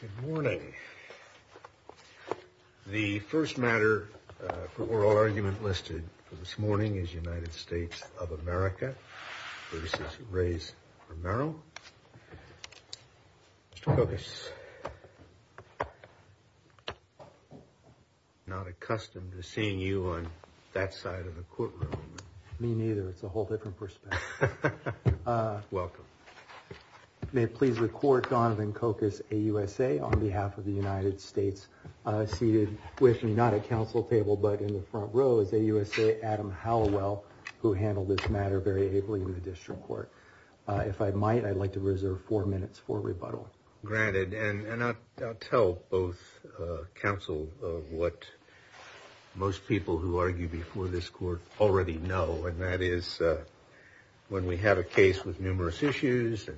Good morning. The first matter for oral argument listed this morning is United States of America v. Reyes-Romero. Mr. Cook, I'm not accustomed to seeing you on that side of the courtroom. Me neither. It's a whole different perspective. Welcome. May it please the court, Jonathan Kokus, AUSA, on behalf of the United States. Seated with me, not at counsel table, but in the front row, is AUSA, Adam Hallowell, who handled this matter very ably with the district court. If I might, I'd like to reserve four minutes for rebuttal. Granted, and I'll tell both counsel what most people who argue before this court already know, and that is when we have a case with numerous issues,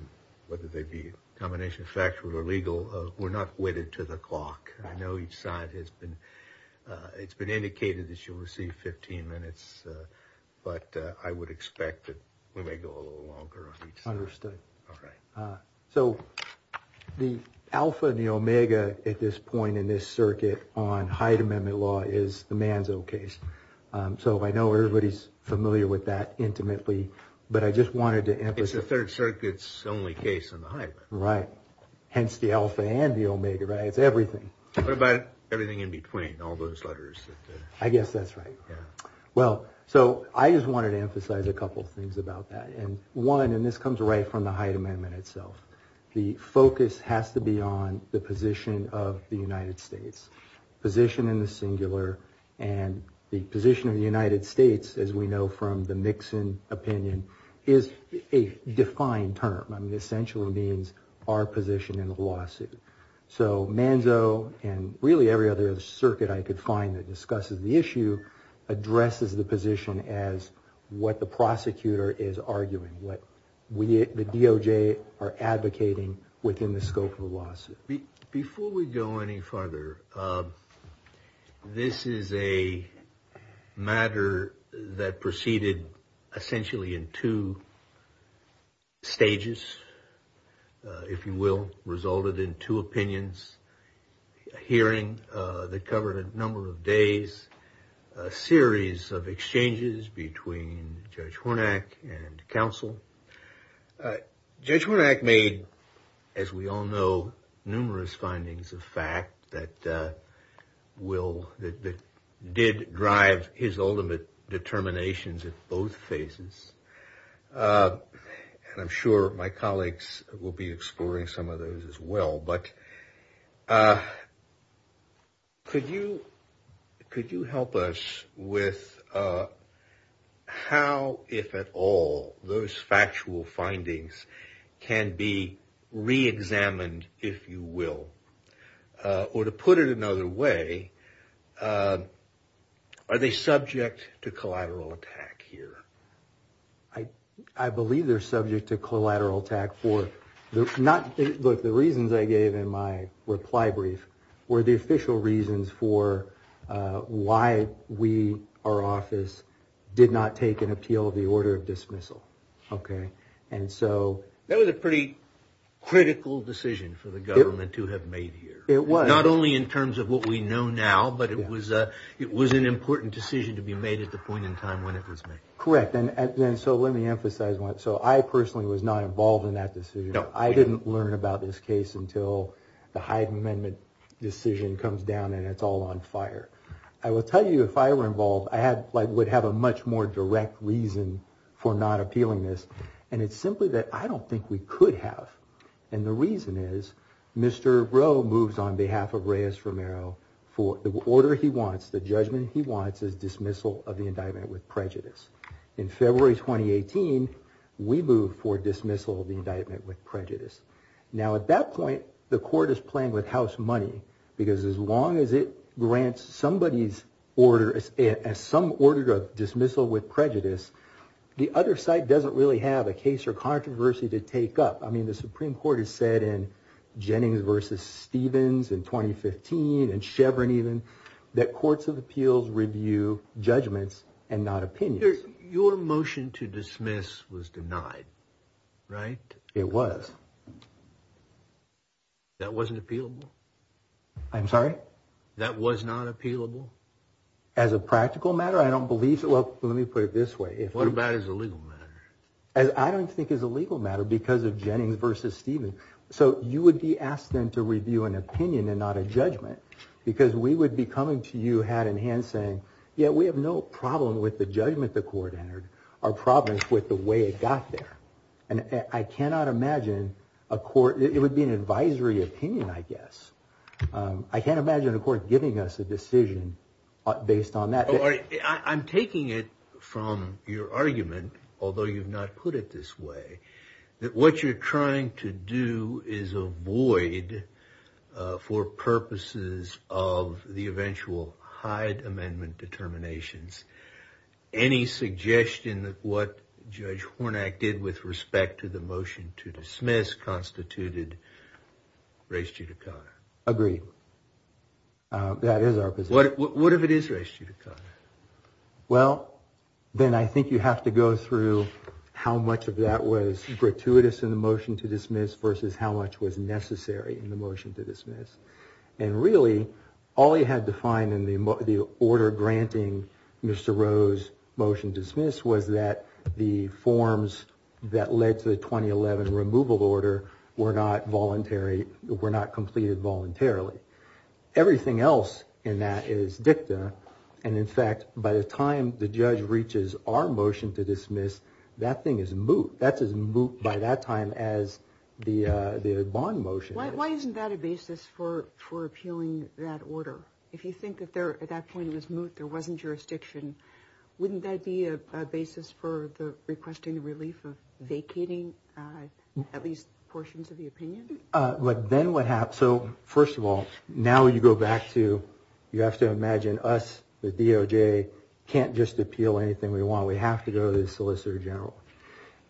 whether they be a combination of factual or legal, we're not wedded to the clock. I know each side has been – it's been indicated that you'll receive 15 minutes, but I would expect that we may go a little longer. Understood. Okay. So the alpha and the omega at this point in this circuit on Hyde Amendment law is the Manzo case. So I know everybody's familiar with that intimately, but I just wanted to emphasize – It's the Third Circuit's only case on the Hyde. Right. Hence the alpha and the omega, right? It's everything. But everything in between, all those letters. I guess that's right. Yeah. Well, so I just wanted to emphasize a couple of things about that. And one, and this comes right from the Hyde Amendment itself, the focus has to be on the position of the United States, position in the singular. And the position of the United States, as we know from the Nixon opinion, is a defined term. I mean, it essentially means our position in the lawsuit. So Manzo and really every other circuit I could find that discusses the issue addresses the position as what the prosecutor is arguing, what the DOJ are advocating within the scope of the lawsuit. Before we go any farther, this is a matter that proceeded essentially in two stages, if you will. Resulted in two opinions, a hearing that covered a number of days, a series of exchanges between Judge Hornack and counsel. Judge Hornack made, as we all know, numerous findings of fact that did drive his ultimate determinations at both phases. I'm sure my colleagues will be exploring some of those as well. But could you help us with how, if at all, those factual findings can be reexamined, if you will? Or to put it another way, are they subject to collateral attack here? I believe they're subject to collateral attack. Look, the reasons I gave in my reply brief were the official reasons for why we, our office, did not take an appeal of the order of dismissal. That was a pretty critical decision for the government to have made here. It was. Not only in terms of what we know now, but it was an important decision to be made at the point in time when it was made. Correct. And so let me emphasize, so I personally was not involved in that decision. I didn't learn about this case until the Hyde Amendment decision comes down and it's all on fire. I will tell you, if I were involved, I would have a much more direct reason for not appealing this. And it's simply that I don't think we could have. And the reason is Mr. Rowe moves on behalf of Reyes-Romero for the order he wants, the judgment he wants, is dismissal of the indictment with prejudice. In February 2018, we moved for dismissal of the indictment with prejudice. Now, at that point, the court is playing with house money because as long as it grants somebody's order, some order of dismissal with prejudice, the other side doesn't really have a case or controversy to take up. I mean, the Supreme Court has said in Jennings v. Stevens in 2015 and Chevron even that courts of appeals review judgments and not opinions. Your motion to dismiss was denied, right? It was. That wasn't appealable? I'm sorry? That was not appealable? As a practical matter, I don't believe it. Well, let me put it this way. What about as a legal matter? I don't think it's a legal matter because of Jennings v. Stevens. So you would be asked then to review an opinion and not a judgment because we would be coming to you, hat in hand, saying, yeah, we have no problem with the judgment the court entered. Our problem is with the way it got there. And I cannot imagine a court – it would be an advisory opinion, I guess. I can't imagine a court giving us a decision based on that. I'm taking it from your argument, although you've not put it this way, that what you're trying to do is avoid, for purposes of the eventual Hyde Amendment determinations, any suggestion that what Judge Hornak did with respect to the motion to dismiss constituted res judicata. Agreed. That is our position. What if it is res judicata? Well, then I think you have to go through how much of that was gratuitous in the motion to dismiss versus how much was necessary in the motion to dismiss. And really, all he had to find in the order granting Mr. Roe's motion to dismiss was that the forms that led to the 2011 removal order were not voluntary – were not completed voluntarily. Everything else in that is dicta. And, in fact, by the time the judge reaches our motion to dismiss, that thing is moot. That is moot by that time as the bond motion is. Why isn't that a basis for appealing that order? If you think at that point it was moot, there wasn't jurisdiction, wouldn't that be a basis for requesting relief or vacating at least portions of the opinion? Then what happened – so, first of all, now you go back to – you have to imagine us, the DOJ, can't just appeal anything we want. We have to go to the Solicitor General.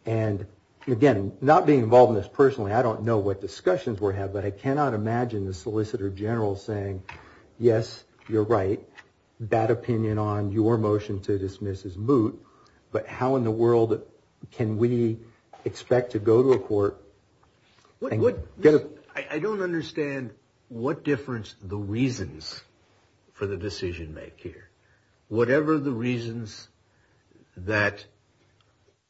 And, again, not being involved in this personally, I don't know what discussions we're having, but I cannot imagine the Solicitor General saying, yes, you're right, bad opinion on your motion to dismiss is moot, but how in the world can we expect to go to a court and get a – I don't understand what difference the reasons for the decision make here. Whatever the reasons that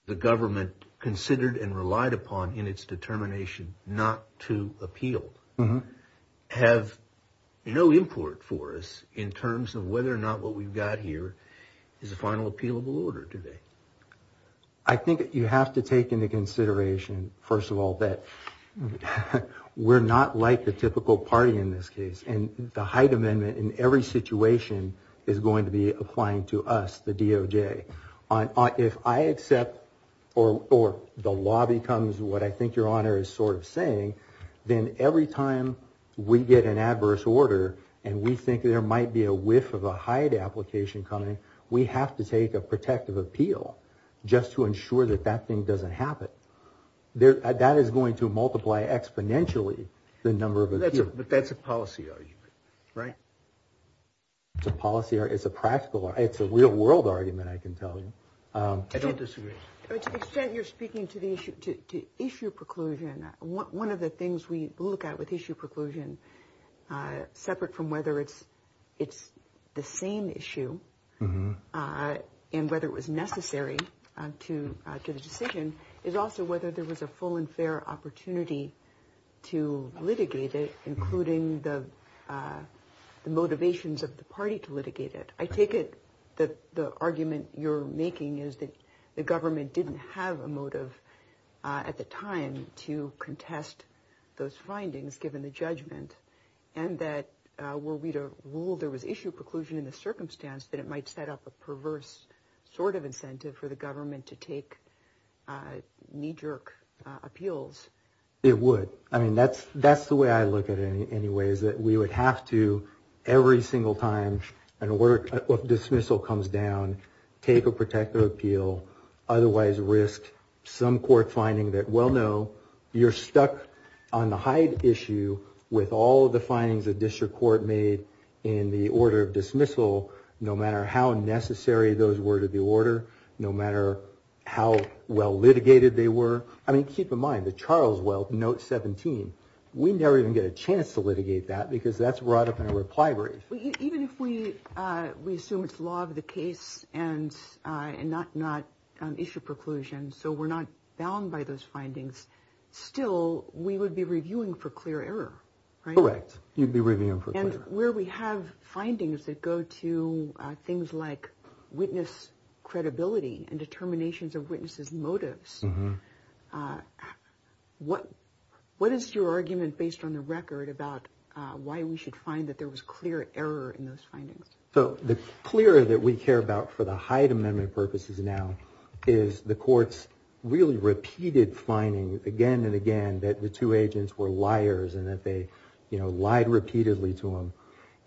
the government considered and relied upon in its determination not to appeal have no import for us in terms of whether or not what we've got here is a final appealable order today. I think you have to take into consideration, first of all, that we're not like the typical party in this case. And the Hyde Amendment in every situation is going to be applying to us, the DOJ. If I accept or the law becomes what I think Your Honor is sort of saying, then every time we get an adverse order and we think there might be a whiff of a Hyde application coming, we have to take a protective appeal just to ensure that that thing doesn't happen. That is going to multiply exponentially the number of appeals. But that's a policy argument, right? It's a policy – it's a practical – it's a real-world argument, I can tell you. I don't disagree. To the extent you're speaking to the issue – to issue preclusion, one of the things we look at with issue preclusion, separate from whether it's the same issue and whether it was necessary to the decision, is also whether there was a full and fair opportunity to litigate it, including the motivations of the party to litigate it. I take it that the argument you're making is that the government didn't have a motive at the time to contest those findings given the judgment, and that were we to rule there was issue preclusion in the circumstance, that it might set up a perverse sort of incentive for the government to take knee-jerk appeals. It would. I mean, that's the way I look at it anyway, is that we would have to, every single time a word of dismissal comes down, take a protective appeal, otherwise risk some court finding that, well, no, you're stuck on the Hyde issue with all of the findings the district court made in the order of dismissal, no matter how necessary those were to the order, no matter how well litigated they were. I mean, keep in mind that Charles Weld, Note 17, we never even get a chance to litigate that, because that's brought up in a reply brief. Even if we assume it's law of the case and not issue preclusion, so we're not bound by those findings, still we would be reviewing for clear error, right? Correct. You'd be reviewing for clear error. And where we have findings that go to things like witness credibility and determinations of witnesses' motives, what is your argument based on the record about why we should find that there was clear error in those findings? So the clear that we care about for the Hyde Amendment purposes now is the court's really repeated findings again and again that the two agents were liars and that they lied repeatedly to them.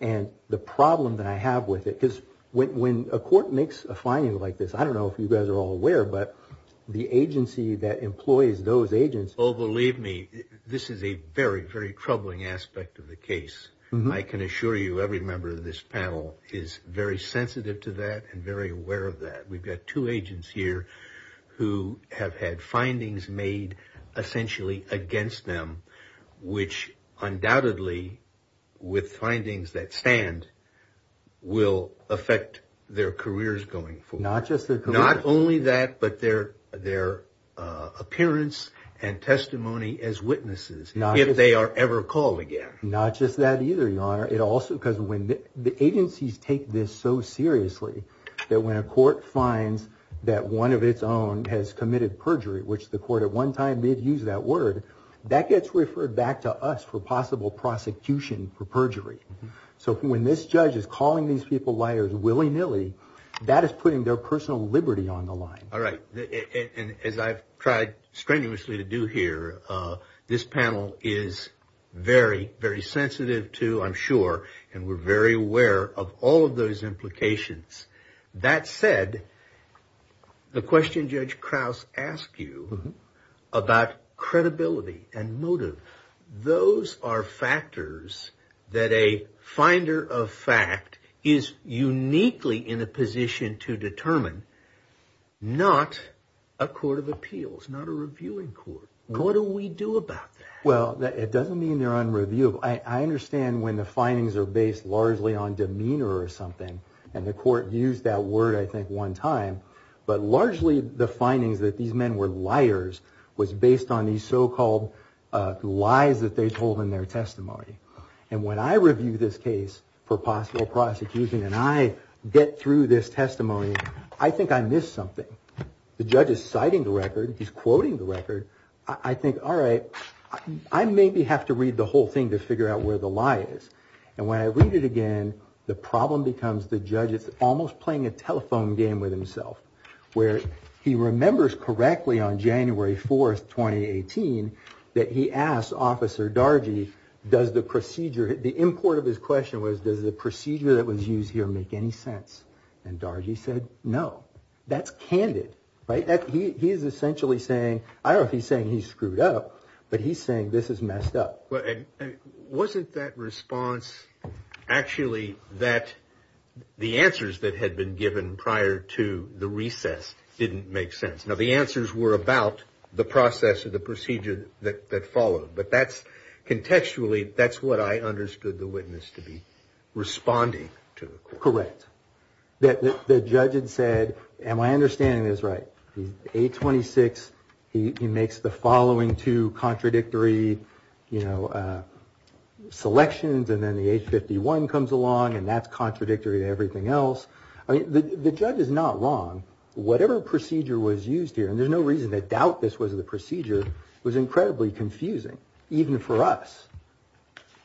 And the problem that I have with it is when a court makes a finding like this, I don't know if you guys are all aware, but the agency that employs those agents... Oh, believe me, this is a very, very troubling aspect of the case. I can assure you every member of this panel is very sensitive to that and very aware of that. We've got two agents here who have had findings made essentially against them, which undoubtedly, with findings that stand, will affect their careers going forward. Not just their careers. Not only that, but their appearance and testimony as witnesses, if they are ever called again. Not just that either, Your Honor. It also, because the agencies take this so seriously that when a court finds that one of its own has committed perjury, which the court at one time did use that word, that gets referred back to us for possible prosecution for perjury. So when this judge is calling these people liars willy-nilly, that is putting their personal liberty on the line. All right. And as I've tried strenuously to do here, this panel is very, very sensitive to, I'm sure, and we're very aware of all of those implications. That said, the question Judge Krauss asked you about credibility and motive, those are factors that a finder of fact is uniquely in a position to determine, not a court of appeals, not a reviewing court. What do we do about that? Well, it doesn't mean they're unreviewable. I understand when the findings are based largely on demeanor or something, and the court used that word I think one time, but largely the findings that these men were liars was based on these so-called lies that they told in their testimony. And when I review this case for possible prosecution and I get through this testimony, I think I missed something. The judge is citing the record. He's quoting the record. I think, all right, I maybe have to read the whole thing to figure out where the lie is. And when I read it again, the problem becomes the judge is almost playing a telephone game with himself, where he remembers correctly on January 4th, 2018, that he asked Officer Dargy, does the procedure, the import of his question was, does the procedure that was used here make any sense? And Dargy said no. That's candid, right? He is essentially saying, I don't know if he's saying he's screwed up, but he's saying this is messed up. Wasn't that response actually that the answers that had been given prior to the recess didn't make sense? Now, the answers were about the process of the procedure that followed, but contextually that's what I understood the witness to be responding to. Correct. The judge had said, and my understanding is right. A26, he makes the following two contradictory selections, and then the H51 comes along and that's contradictory to everything else. I mean, the judge is not wrong. Whatever procedure was used here, and there's no reason to doubt this was the procedure, was incredibly confusing, even for us.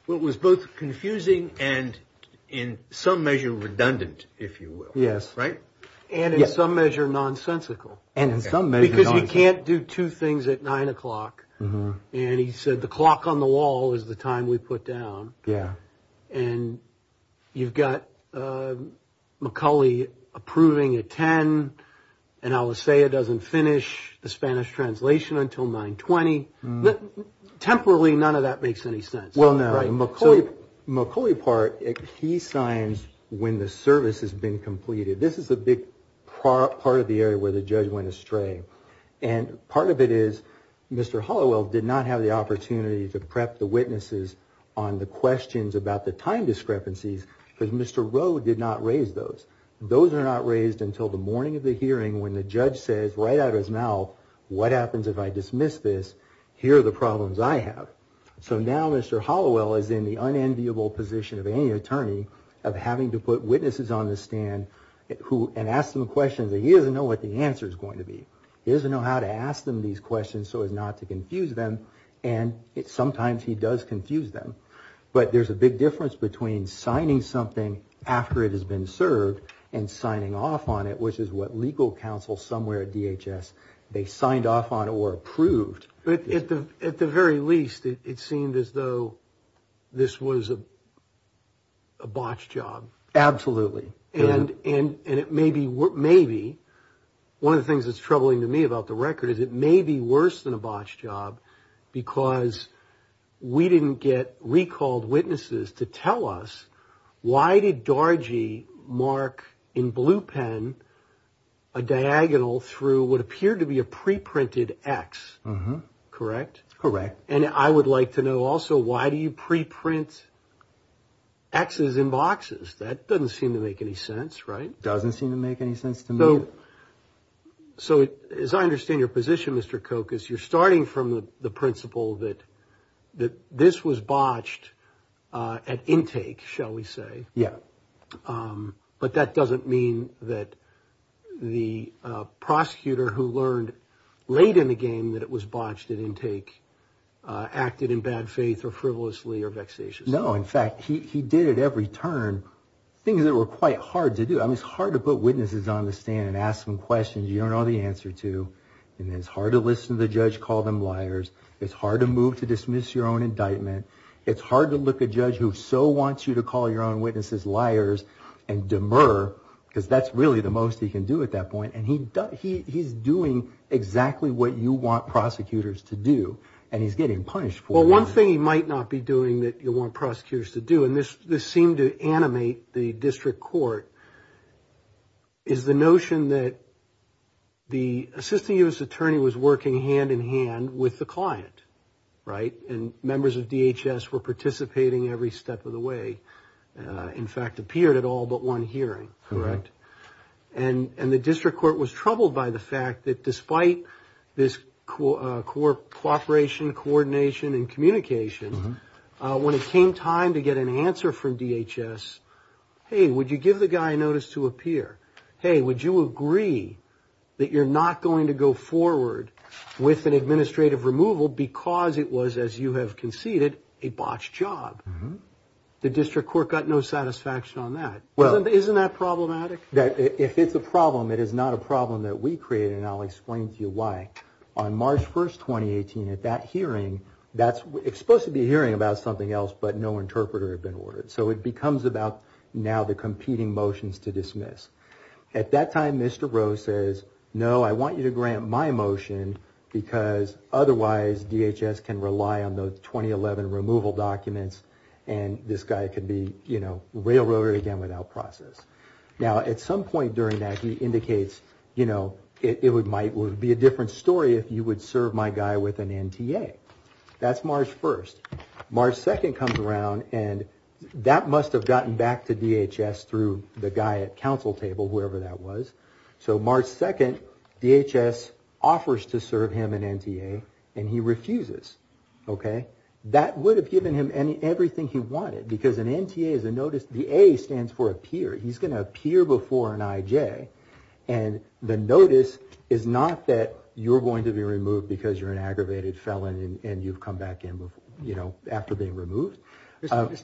Well, it was both confusing and in some measure redundant, if you will. Yes. Right? And in some measure nonsensical. And in some measure nonsensical. Because he can't do two things at 9 o'clock, and he said the clock on the wall is the time we put down. Yes. And you've got McCulley approving at 10, and Alastair doesn't finish the Spanish translation until 9.20. Temporally, none of that makes any sense. Well, no. McCulley part, he signs when the service has been completed. This is a big part of the area where the judge went astray. And part of it is Mr. Hollowell did not have the opportunity to prep the witnesses on the questions about the time discrepancies because Mr. Rowe did not raise those. Those are not raised until the morning of the hearing when the judge says right out of his mouth, what happens if I dismiss this? Here are the problems I have. So now Mr. Hollowell is in the unenviable position of any attorney of having to put witnesses on the stand and ask them a question that he doesn't know what the answer is going to be. He doesn't know how to ask them these questions so as not to confuse them, and sometimes he does confuse them. But there's a big difference between signing something after it has been served and signing off on it, which is what legal counsel somewhere at DHS, they signed off on or approved. At the very least, it seemed as though this was a botched job. Absolutely. And it may be. One of the things that's troubling to me about the record is it may be worse than a botched job because we didn't get recalled witnesses to tell us why did Dargie mark in blue pen a diagonal through what appeared to be a preprinted X, correct? Correct. And I would like to know also why do you preprint X's in boxes? That doesn't seem to make any sense, right? Doesn't seem to make any sense to me. So as I understand your position, Mr. Koch, is you're starting from the principle that this was botched at intake, shall we say. Yeah. But that doesn't mean that the prosecutor who learned late in the game that it was botched at intake acted in bad faith or frivolously or vexatiously. No. In fact, he did at every turn things that were quite hard to do. I mean, it's hard to put witnesses on the stand and ask them questions you don't know the answer to. And it's hard to listen to the judge call them liars. It's hard to move to dismiss your own indictment. It's hard to look at a judge who so wants you to call your own witnesses liars and demur because that's really the most he can do at that point. And he's doing exactly what you want prosecutors to do, and he's getting punished for it. Well, one thing he might not be doing that you want prosecutors to do, and this seemed to animate the district court, is the notion that the assistant U.S. attorney was working hand-in-hand with the client, right, and members of DHS were participating every step of the way. In fact, it appeared at all but one hearing. And the district court was troubled by the fact that despite this cooperation, coordination, and communication, when it came time to get an answer from DHS, hey, would you give the guy a notice to appear? Hey, would you agree that you're not going to go forward with an administrative removal because it was, as you have conceded, a botched job? The district court got no satisfaction on that. Isn't that problematic? It's a problem. It is not a problem that we created, and I'll explain to you why. On March 1, 2018, at that hearing, it's supposed to be a hearing about something else, but no interpreter had been ordered. So it becomes about now the competing motions to dismiss. At that time, Mr. Groh says, no, I want you to grant my motion because otherwise DHS can rely on those 2011 removal documents and this guy could be, you know, railroaded again without process. Now, at some point during that, he indicates, you know, it might be a different story if you would serve my guy with an MTA. That's March 1. March 2 comes around, and that must have gotten back to DHS through the guy at counsel table, wherever that was. So March 2, DHS offers to serve him an MTA, and he refuses. Okay? That would have given him everything he wanted because an MTA is a notice. The A stands for appear. He's going to appear before an IJ, and the notice is not that you're going to be removed because you're an aggravated felon and you've come back in, you know, after being removed. Mr.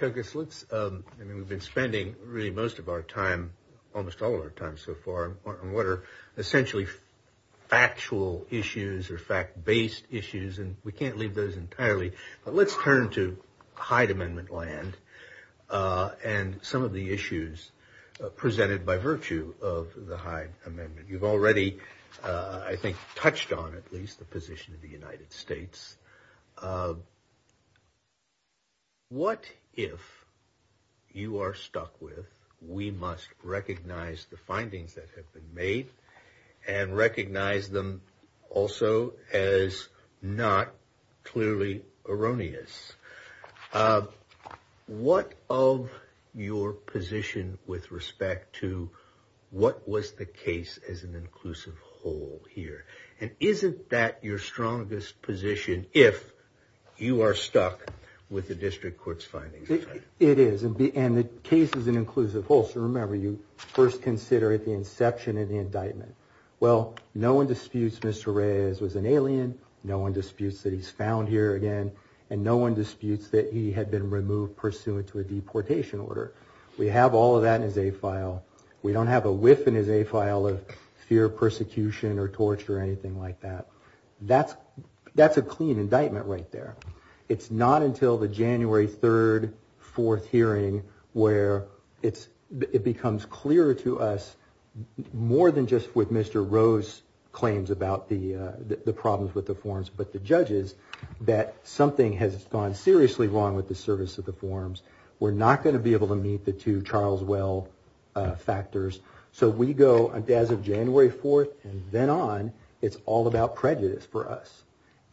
Kogut, we've been spending most of our time, almost all of our time so far, on what are essentially factual issues or fact-based issues, and we can't leave those entirely, but let's turn to Hyde Amendment land and some of the issues presented by virtue of the Hyde Amendment. You've already, I think, touched on at least the position of the United States. What if you are stuck with we must recognize the findings that have been made and recognize them also as not clearly erroneous? What of your position with respect to what was the case as an inclusive whole here, and isn't that your strongest position if you are stuck with the district court's findings? It is, and the case is an inclusive whole. So remember, you first consider it at the inception of the indictment. Well, no one disputes Mr. Reyes was an alien. No one disputes that he's found here again, and no one disputes that he had been removed pursuant to a deportation order. We have all of that in his A-file. We don't have a whiff in his A-file of fear of persecution or torture or anything like that. That's a clean indictment right there. It's not until the January 3rd, 4th hearing where it becomes clearer to us, more than just with Mr. Rowe's claims about the problems with the forms, but the judges, that something has gone seriously wrong with the service of the forms. We're not going to be able to meet the two Charles Well factors. So we go, as of January 4th and then on, it's all about prejudice for us.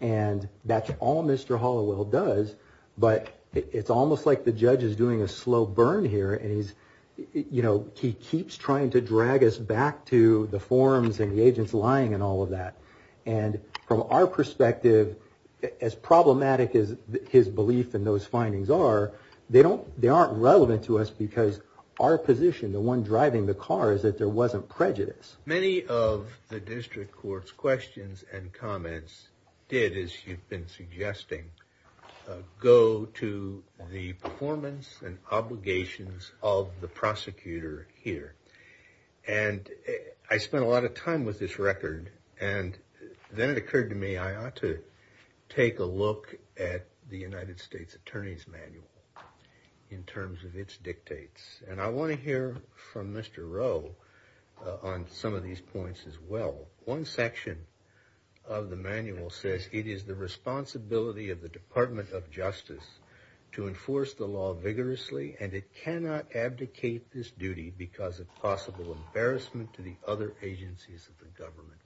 And that's all Mr. Hollowell does, but it's almost like the judge is doing a slow burn here, and he keeps trying to drag us back to the forms and the agents lying and all of that. And from our perspective, as problematic as his belief in those findings are, they aren't relevant to us because our position, the one driving the car, is that there wasn't prejudice. Many of the district court's questions and comments did, as you've been suggesting, go to the performance and obligations of the prosecutor here. And I spent a lot of time with this record, and then it occurred to me I ought to take a look at the United States Attorney's Manual in terms of its dictates. And I want to hear from Mr. Rowe on some of these points as well. One section of the manual says, it is the responsibility of the Department of Justice to enforce the law vigorously, and it cannot abdicate this duty because of possible embarrassment to the other agencies of the government.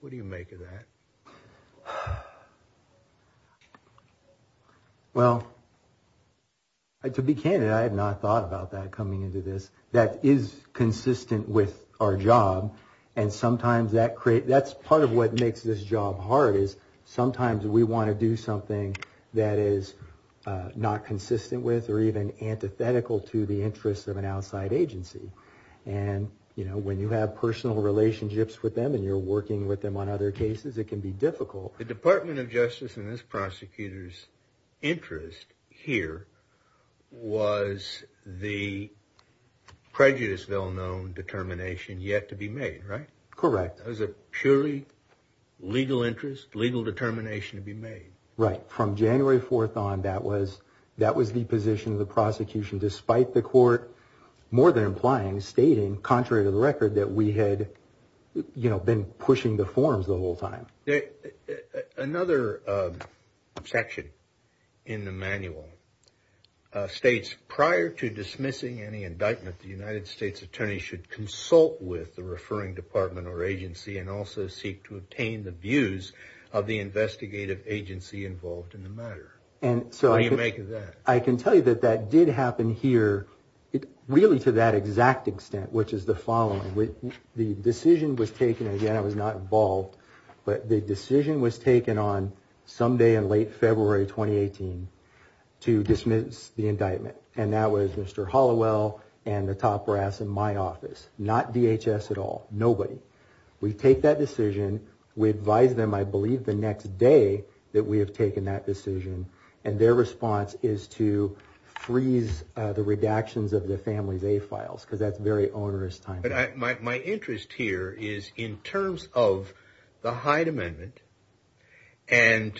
What do you make of that? Well, to be candid, I had not thought about that coming into this. That is consistent with our job, and sometimes that creates, that's part of what makes this job hard, is sometimes we want to do something that is not consistent with or even antithetical to the interests of an outside agency. And, you know, when you have personal relationships with them and you're working with them on other cases, it can be difficult. The Department of Justice and this prosecutor's interest here was the prejudice-villanone determination yet to be made, right? Correct. It was a purely legal interest, legal determination to be made. Right. From January 4th on, that was the position of the prosecution, despite the court more than implying, stating, contrary to the record, that we had, you know, been pushing the forms the whole time. Another section in the manual states, prior to dismissing any indictment, that the United States attorney should consult with the referring department or agency and also seek to obtain the views of the investigative agency involved in the matter. What do you make of that? I can tell you that that did happen here, really to that exact extent, which is the following. The decision was taken, again, I was not involved, but the decision was taken on Sunday in late February 2018 to dismiss the indictment. And that was Mr. Hollowell and the top brass in my office. Not DHS at all. Nobody. We take that decision. We advise them, I believe, the next day that we have taken that decision, and their response is to freeze the redactions of the family's A files, because that's very onerous time. But my interest here is in terms of the Hyde Amendment and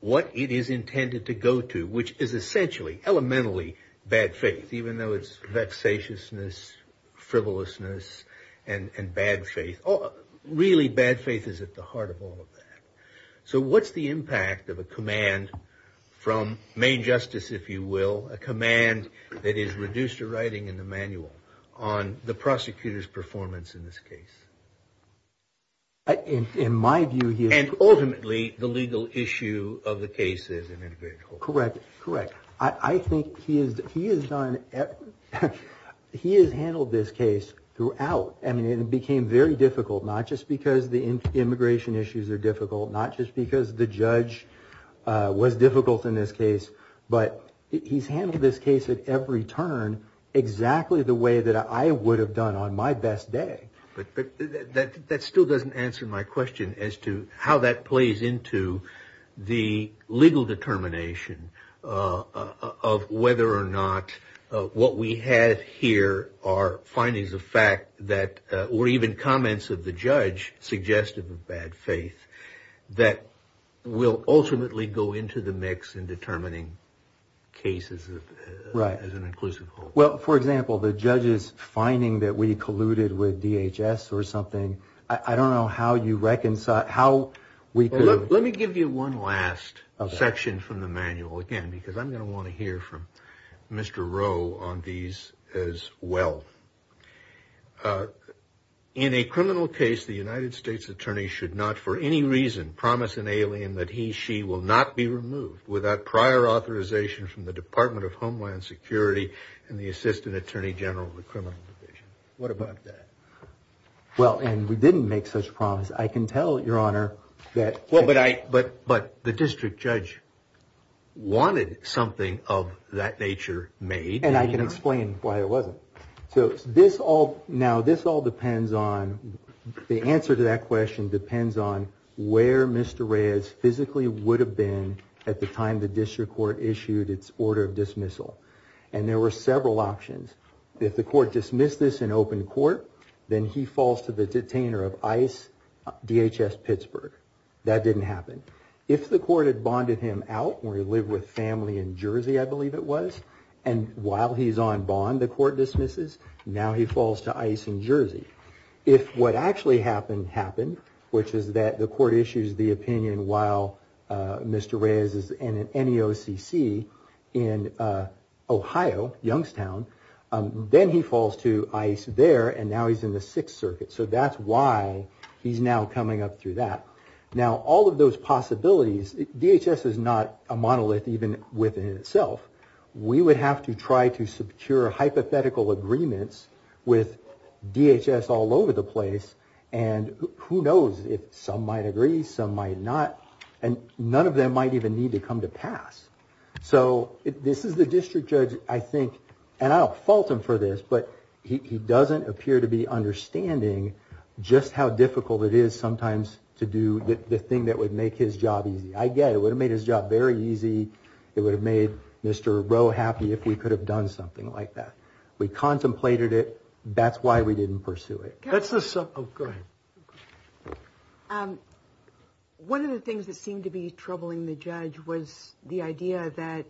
what it is intended to go to, which is essentially, elementally, bad faith, even though it's vexatiousness, frivolousness, and bad faith. Really, bad faith is at the heart of all of that. So what's the impact of a command from main justice, if you will, a command that is reduced to writing in the manual, on the prosecutor's performance in this case? In my view, he is. And ultimately, the legal issue of the case as an individual. Correct, correct. I think he has handled this case throughout, and it became very difficult, not just because the immigration issues are difficult, not just because the judge was difficult in this case, but he's handled this case at every turn exactly the way that I would have done on my best day. But that still doesn't answer my question as to how that plays into the legal determination of whether or not what we have here are findings of fact that, or even comments of the judge suggestive of bad faith, that will ultimately go into the mix in determining cases as an inclusive whole. Well, for example, the judge's finding that we colluded with DHS or something, I don't know how you reconcile, how we could... Let me give you one last section from the manual, again, because I'm going to want to hear from Mr. Rowe on these as well. In a criminal case, the United States attorney should not, for any reason, promise an alien that he, she will not be removed without prior authorization from the Department of Homeland Security and the Assistant Attorney General of the Criminal Division. What about that? Well, and we didn't make such a promise. I can tell, Your Honor, that... But the district judge wanted something of that nature made. And I can explain why I love it. So this all, now this all depends on, the answer to that question depends on where Mr. Reyes physically would have been at the time the district court issued its order of dismissal. And there were several options. If the court dismissed this in open court, then he falls to the detainer of ICE, DHS Pittsburgh. That didn't happen. If the court had bonded him out where he lived with family in Jersey, I believe it was, and while he's on bond, the court dismisses, now he falls to ICE in Jersey. If what actually happened happened, which is that the court issues the opinion while Mr. Reyes is in an NEOCC in Ohio, Youngstown, then he falls to ICE there, and now he's in the Sixth Circuit. So that's why he's now coming up through that. Now, all of those possibilities, DHS is not a monolith even within itself. We would have to try to secure hypothetical agreements with DHS all over the place, and who knows if some might agree, some might not, and none of them might even need to come to pass. So this is the district judge, I think, and I don't fault him for this, but he doesn't appear to be understanding just how difficult it is sometimes to do the thing that would make his job easy. I get it, it would have made his job very easy. It would have made Mr. Rowe happy if we could have done something like that. We contemplated it. That's why we didn't pursue it. One of the things that seemed to be troubling the judge was the idea that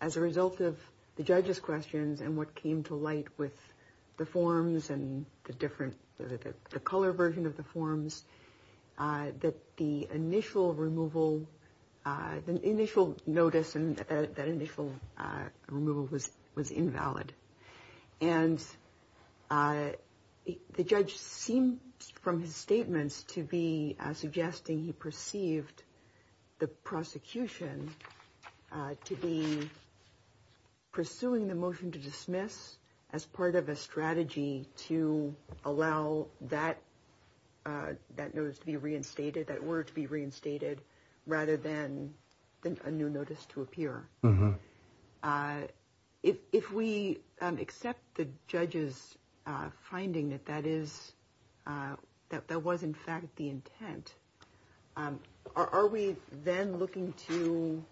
as a result of the judge's questions and what came to light with the forms and the different, the color version of the forms, that the initial removal, the initial notice and that initial removal was invalid. And the judge seemed from his statements to be suggesting he perceived the prosecution to be pursuing the motion to dismiss as part of a strategy to allow that notice to be reinstated, that word to be reinstated, rather than a new notice to appear. If we accept the judge's finding that that is, that that was in fact the intent, are we then looking to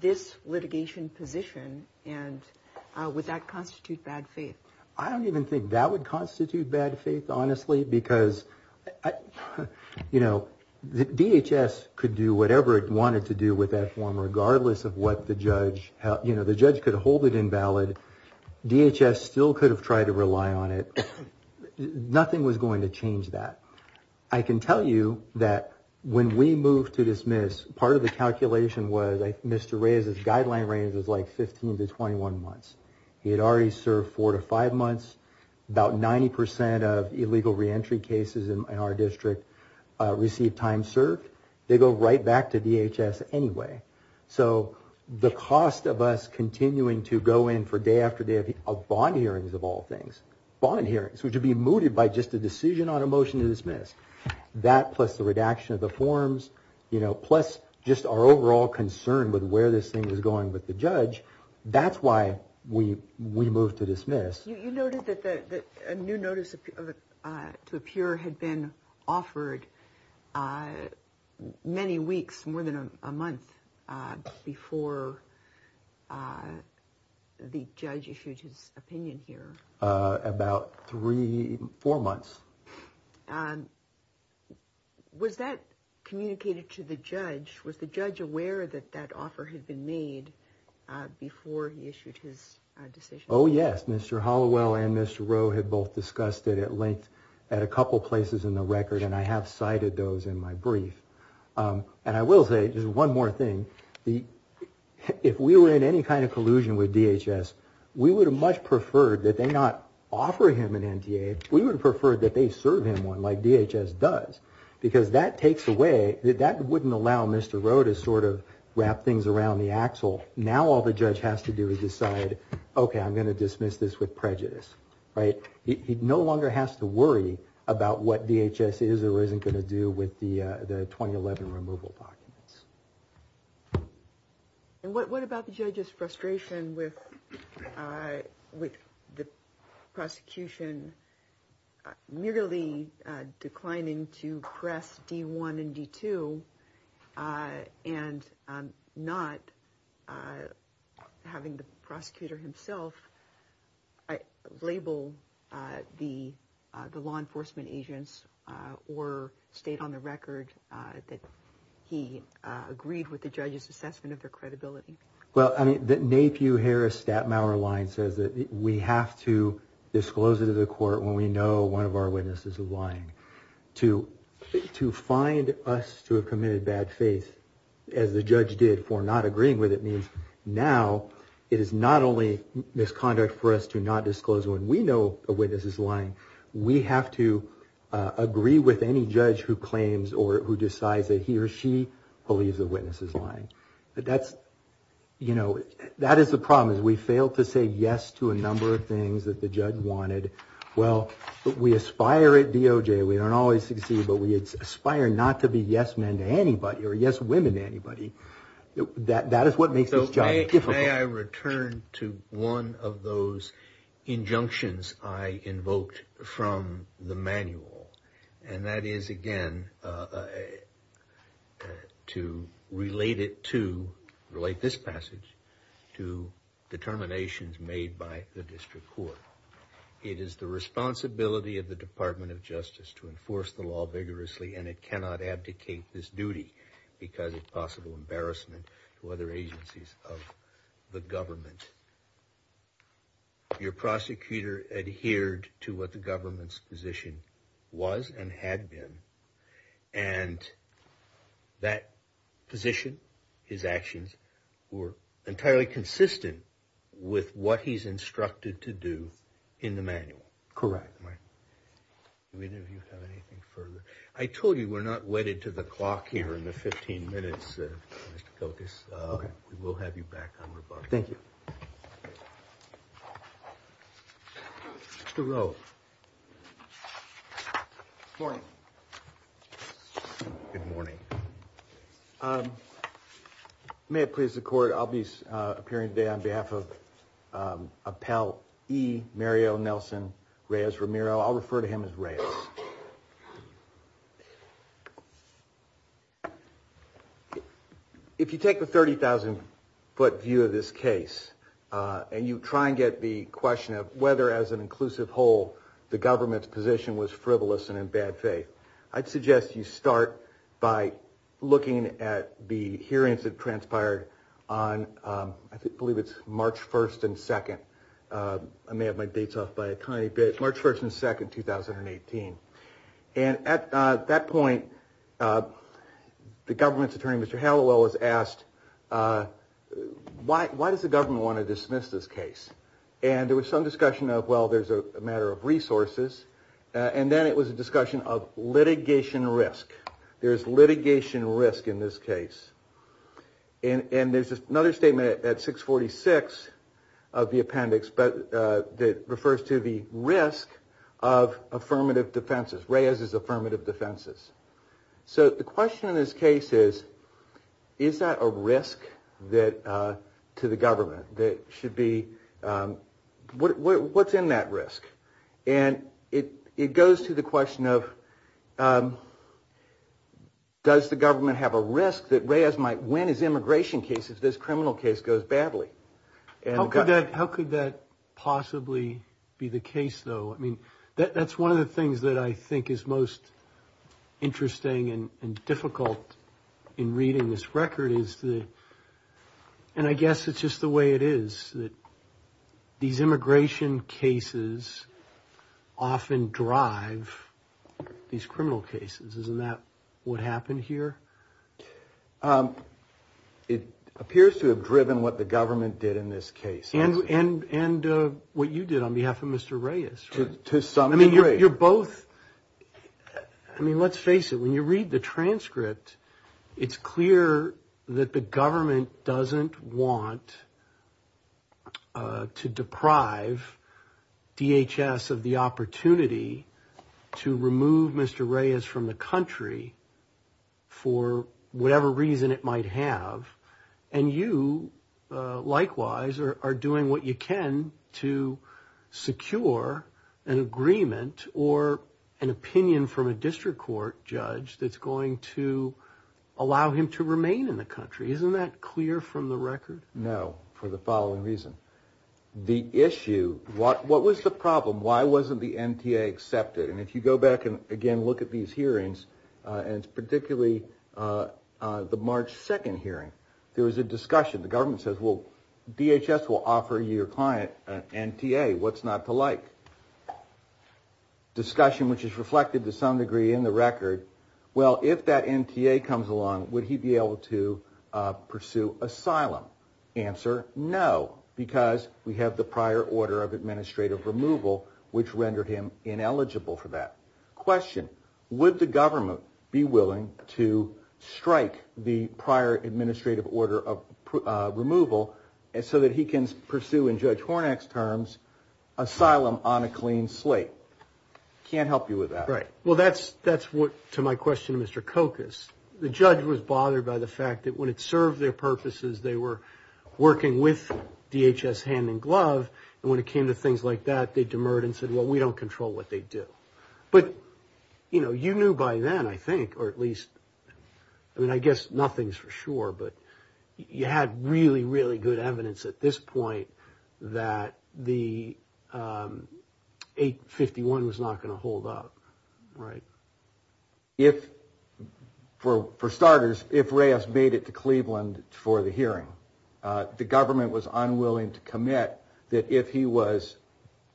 this litigation position and would that constitute bad faith? I don't even think that would constitute bad faith, honestly, because, you know, DHS could do whatever it wanted to do with that form regardless of what the judge, you know, the judge could hold it invalid. DHS still could have tried to rely on it. Nothing was going to change that. I can tell you that when we moved to dismiss, part of the calculation was Mr. Reyes's guideline range was like 15 to 21 months. He had already served four to five months. About 90% of illegal reentry cases in our district received time served. They go right back to DHS anyway. So the cost of us continuing to go in for day after day of bond hearings of all things, bond hearings, which would be mooted by just a decision on a motion to dismiss. That plus the redaction of the forms, you know, plus just our overall concern with where this thing was going with the judge, that's why we moved to dismiss. You noted that a new notice to appear had been offered many weeks, more than a month before the judge issued his opinion here. About three, four months. Was that communicated to the judge? Was the judge aware that that offer had been made before he issued his decision? Oh, yes. Mr. Hollowell and Mr. Rowe had both discussed it at length at a couple places in the record, and I have cited those in my brief. And I will say, just one more thing, if we were in any kind of collusion with DHS, we would have much preferred that they not offer him an NDA. We would have preferred that they serve him one like DHS does, because that takes away, that wouldn't allow Mr. Rowe to sort of wrap things around the axle. Now all the judge has to do is decide, okay, I'm going to dismiss this with prejudice, right? He no longer has to worry about what DHS is or isn't going to do with the 2011 removal documents. And what about the judge's frustration with the prosecution merely declining to press D-1 and D-2 and not having the prosecutor himself label the law enforcement agents or state on the record that he agreed with the judge's assessment of their credibility? Well, I mean, the Napew-Harris-Stapmauer line says that we have to disclose it to the court when we know one of our witnesses is lying. To find us to a committed bad faith, as the judge did for not agreeing with it, means now it is not only misconduct for us to not disclose when we know a witness is lying, we have to agree with any judge who claims or who decides that he or she believes a witness is lying. But that's, you know, that is the problem, is we fail to say yes to a number of things that the judge wanted. Well, we aspire at DOJ, we don't always succeed, but we aspire not to be yes-men to anybody or yes-women to anybody. That is what makes this job difficult. May I return to one of those injunctions I invoked from the manual, and that is, again, to relate it to, relate this passage to the determinations made by the district court. It is the responsibility of the Department of Justice to enforce the law vigorously, and it cannot abdicate this duty because of possible embarrassment to other agencies of the government. Your prosecutor adhered to what the government's position was and had been, and that position, his actions, were entirely consistent with what he's instructed to do in the manual. Correct. Do either of you have anything further? I told you we're not wedded to the clock here in the 15 minutes. We will have you back on the bar. Thank you. Mr. Rose. Good morning. Good morning. May it please the Court, I'll be appearing today on behalf of Appellee Mario Nelson Reyes-Ramiro. I'll refer to him as Reyes. If you take the 30,000-foot view of this case, and you try and get the question of whether, as an inclusive whole, the government's position was frivolous and in bad faith, I'd suggest you start by looking at the hearings that transpired on, I believe it's March 1st and 2nd. I may have my dates off by a tiny bit. March 1st and 2nd, 2018. At that point, the government's attorney, Mr. Hallowell, was asked, why does the government want to dismiss this case? There was some discussion of, well, there's a matter of resources. Then it was a discussion of litigation risk. There's litigation risk in this case. There's another statement at 646 of the appendix that refers to the risk of affirmative defenses. Reyes is affirmative defenses. The question in this case is, is that a risk to the government? What's in that risk? It goes to the question of, does the government have a risk that Reyes might win his immigration case if this criminal case goes badly? How could that possibly be the case, though? That's one of the things that I think is most interesting and difficult in reading this record. I guess it's just the way it is that these immigration cases often drive these criminal cases. Isn't that what happened here? It appears to have driven what the government did in this case. And what you did on behalf of Mr. Reyes. To some degree. I mean, let's face it. When you read the transcript, it's clear that the government doesn't want to deprive DHS of the opportunity to remove Mr. Reyes from the country for whatever reason it might have. And you, likewise, are doing what you can to secure an agreement or an opinion from a district court judge that's going to allow him to remain in the country. Isn't that clear from the record? No, for the following reason. The issue, what was the problem? Why wasn't the NTA accepted? And if you go back and, again, look at these hearings, and particularly the March 2nd hearing, there was a discussion. The government says, well, DHS will offer you, your client, an NTA. What's not to like? Discussion which is reflected to some degree in the record. Well, if that NTA comes along, would he be able to pursue asylum? Answer, no, because we have the prior order of administrative removal which rendered him ineligible for that. Question, would the government be willing to strike the prior administrative order of removal so that he can pursue, in Judge Hornak's terms, asylum on a clean slate? Can't help you with that. Right. Well, that's what, to my question to Mr. Kokas, the judge was bothered by the fact that when it served their purposes, they were working with DHS hand in glove. And when it came to things like that, they demurred and said, well, we don't control what they do. But, you know, you knew by then, I think, or at least, I mean, I guess nothing's for sure, but you had really, really good evidence at this point that the 851 was not going to hold up, right? If, for starters, if Reyes made it to Cleveland for the hearing, the government was unwilling to commit that if he was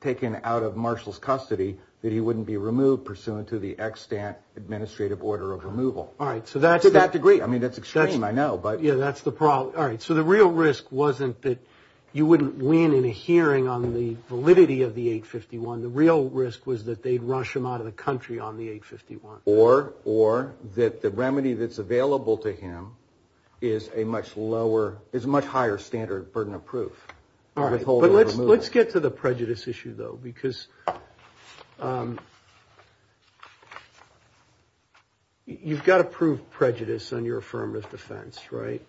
taken out of Marshall's custody, that he wouldn't be removed pursuant to the extant administrative order of removal. All right. To that degree. I mean, that's extreme, I know. All right. So the real risk wasn't that you wouldn't win in a hearing on the validity of the 851. The real risk was that they'd rush him out of the country on the 851. Or that the remedy that's available to him is a much lower, is a much higher standard burden of proof. All right. But let's get to the prejudice issue, though, because you've got to prove prejudice on your affirmative defense, right?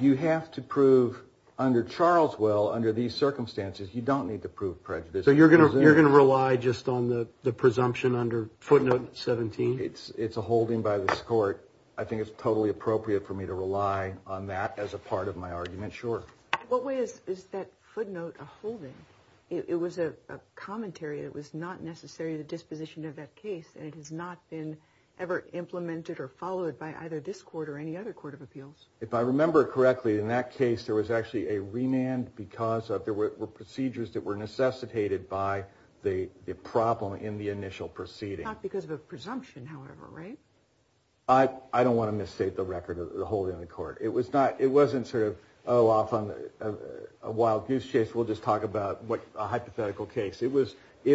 You have to prove, under Charles Will, under these circumstances, you don't need to prove prejudice. So you're going to rely just on the presumption under footnote 17? It's a holding by this court. I think it's probably appropriate for me to rely on that as a part of my argument, sure. What way is that footnote a holding? It was a commentary that was not necessarily the disposition of that case and has not been ever implemented or followed by either this court or any other court of appeals. If I remember correctly, in that case, there was actually a remand because there were procedures that were necessitated by the problem in the initial proceeding. Not because of a presumption, however, right? I don't want to misstate the record of the holding of the court. It wasn't sort of a wild goose chase. We'll just talk about a hypothetical case. It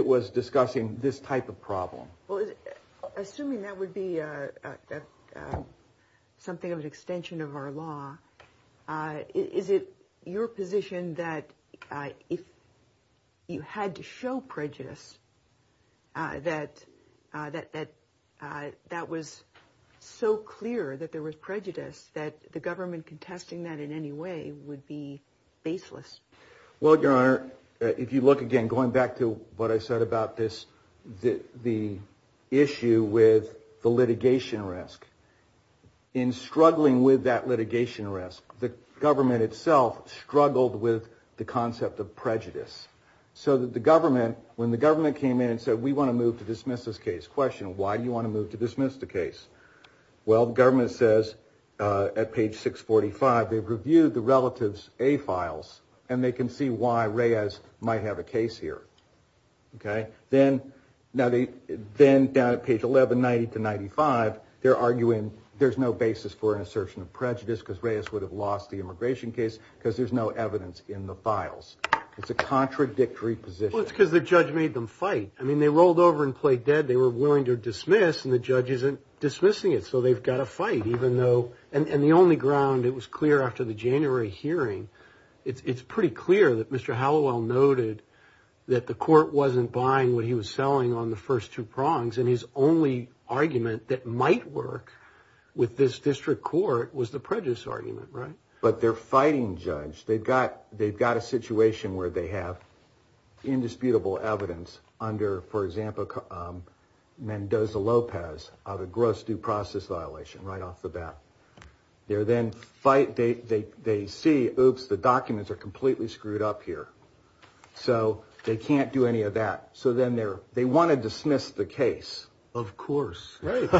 was discussing this type of problem. Assuming that would be something of an extension of our law, is it your position that if you had to show prejudice, that that was so clear that there was prejudice, that the government contesting that in any way would be baseless? Well, Your Honor, if you look again, going back to what I said about this, the issue with the litigation risk. In struggling with that litigation risk, the government itself struggled with the concept of prejudice. So that the government, when the government came in and said, we want to move to dismiss this case. Question, why do you want to move to dismiss the case? Well, the government says at page 645, they've reviewed the relative's A files and they can see why Reyes might have a case here. Okay? Then, down at page 1190 to 95, they're arguing there's no basis for an assertion of prejudice because Reyes would have lost the immigration case because there's no evidence in the files. It's a contradictory position. Well, it's because the judge made them fight. I mean, they rolled over and played dead. They were willing to dismiss, and the judge isn't dismissing it. So they've got to fight, even though. And the only ground it was clear after the January hearing, it's pretty clear that Mr. Hallowell noted that the court wasn't buying what he was selling on the first two prongs. And his only argument that might work with this district court was the prejudice argument, right? But they're fighting, Judge. They've got a situation where they have indisputable evidence under, for example, Mendoza-Lopez of a gross due process violation right off the bat. They see, oops, the documents are completely screwed up here. So they can't do any of that. So then they want to dismiss the case. Of course. As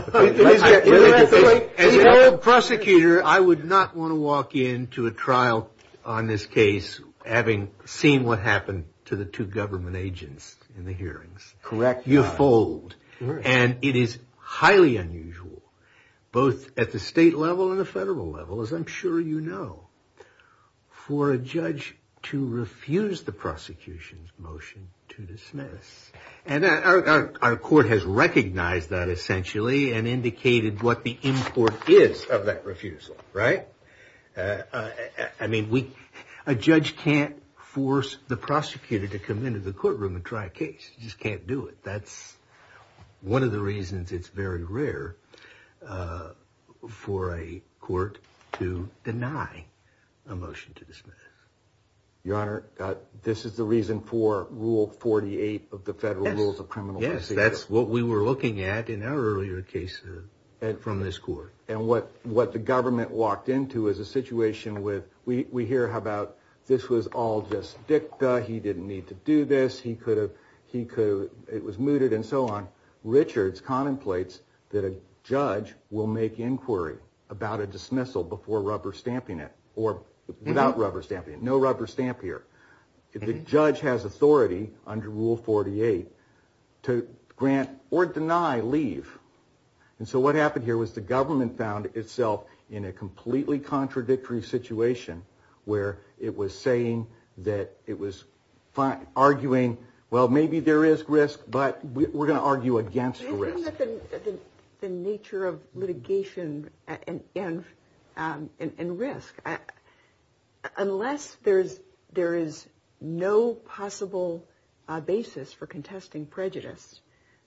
a prosecutor, I would not want to walk into a trial on this case having seen what happened to the two government agents in the hearings. Correct. You fold. And it is highly unusual, both at the state level and the federal level, as I'm sure you know, for a judge to refuse the prosecution's motion to dismiss. And our court has recognized that essentially and indicated what the import is of that refusal, right? I mean, a judge can't force the prosecutor to come into the courtroom and try a case. You just can't do it. That's one of the reasons it's very rare for a court to deny a motion to dismiss. Your Honor, this is the reason for Rule 48 of the Federal Rules of Criminal Procedure. Yes, that's what we were looking at in our earlier case from this court. And what the government walked into is a situation where we hear about this was all just dicta. He didn't need to do this. He could have, he could have, it was mooted and so on. Richard contemplates that a judge will make inquiry about a dismissal before rubber stamping it or without rubber stamping it. No rubber stamp here. The judge has authority under Rule 48 to grant or deny leave. And so what happened here was the government found itself in a completely contradictory situation where it was saying that it was arguing, well, maybe there is risk, but we're going to argue against the risk. Given the nature of litigation and risk, unless there is no possible basis for contesting prejudice,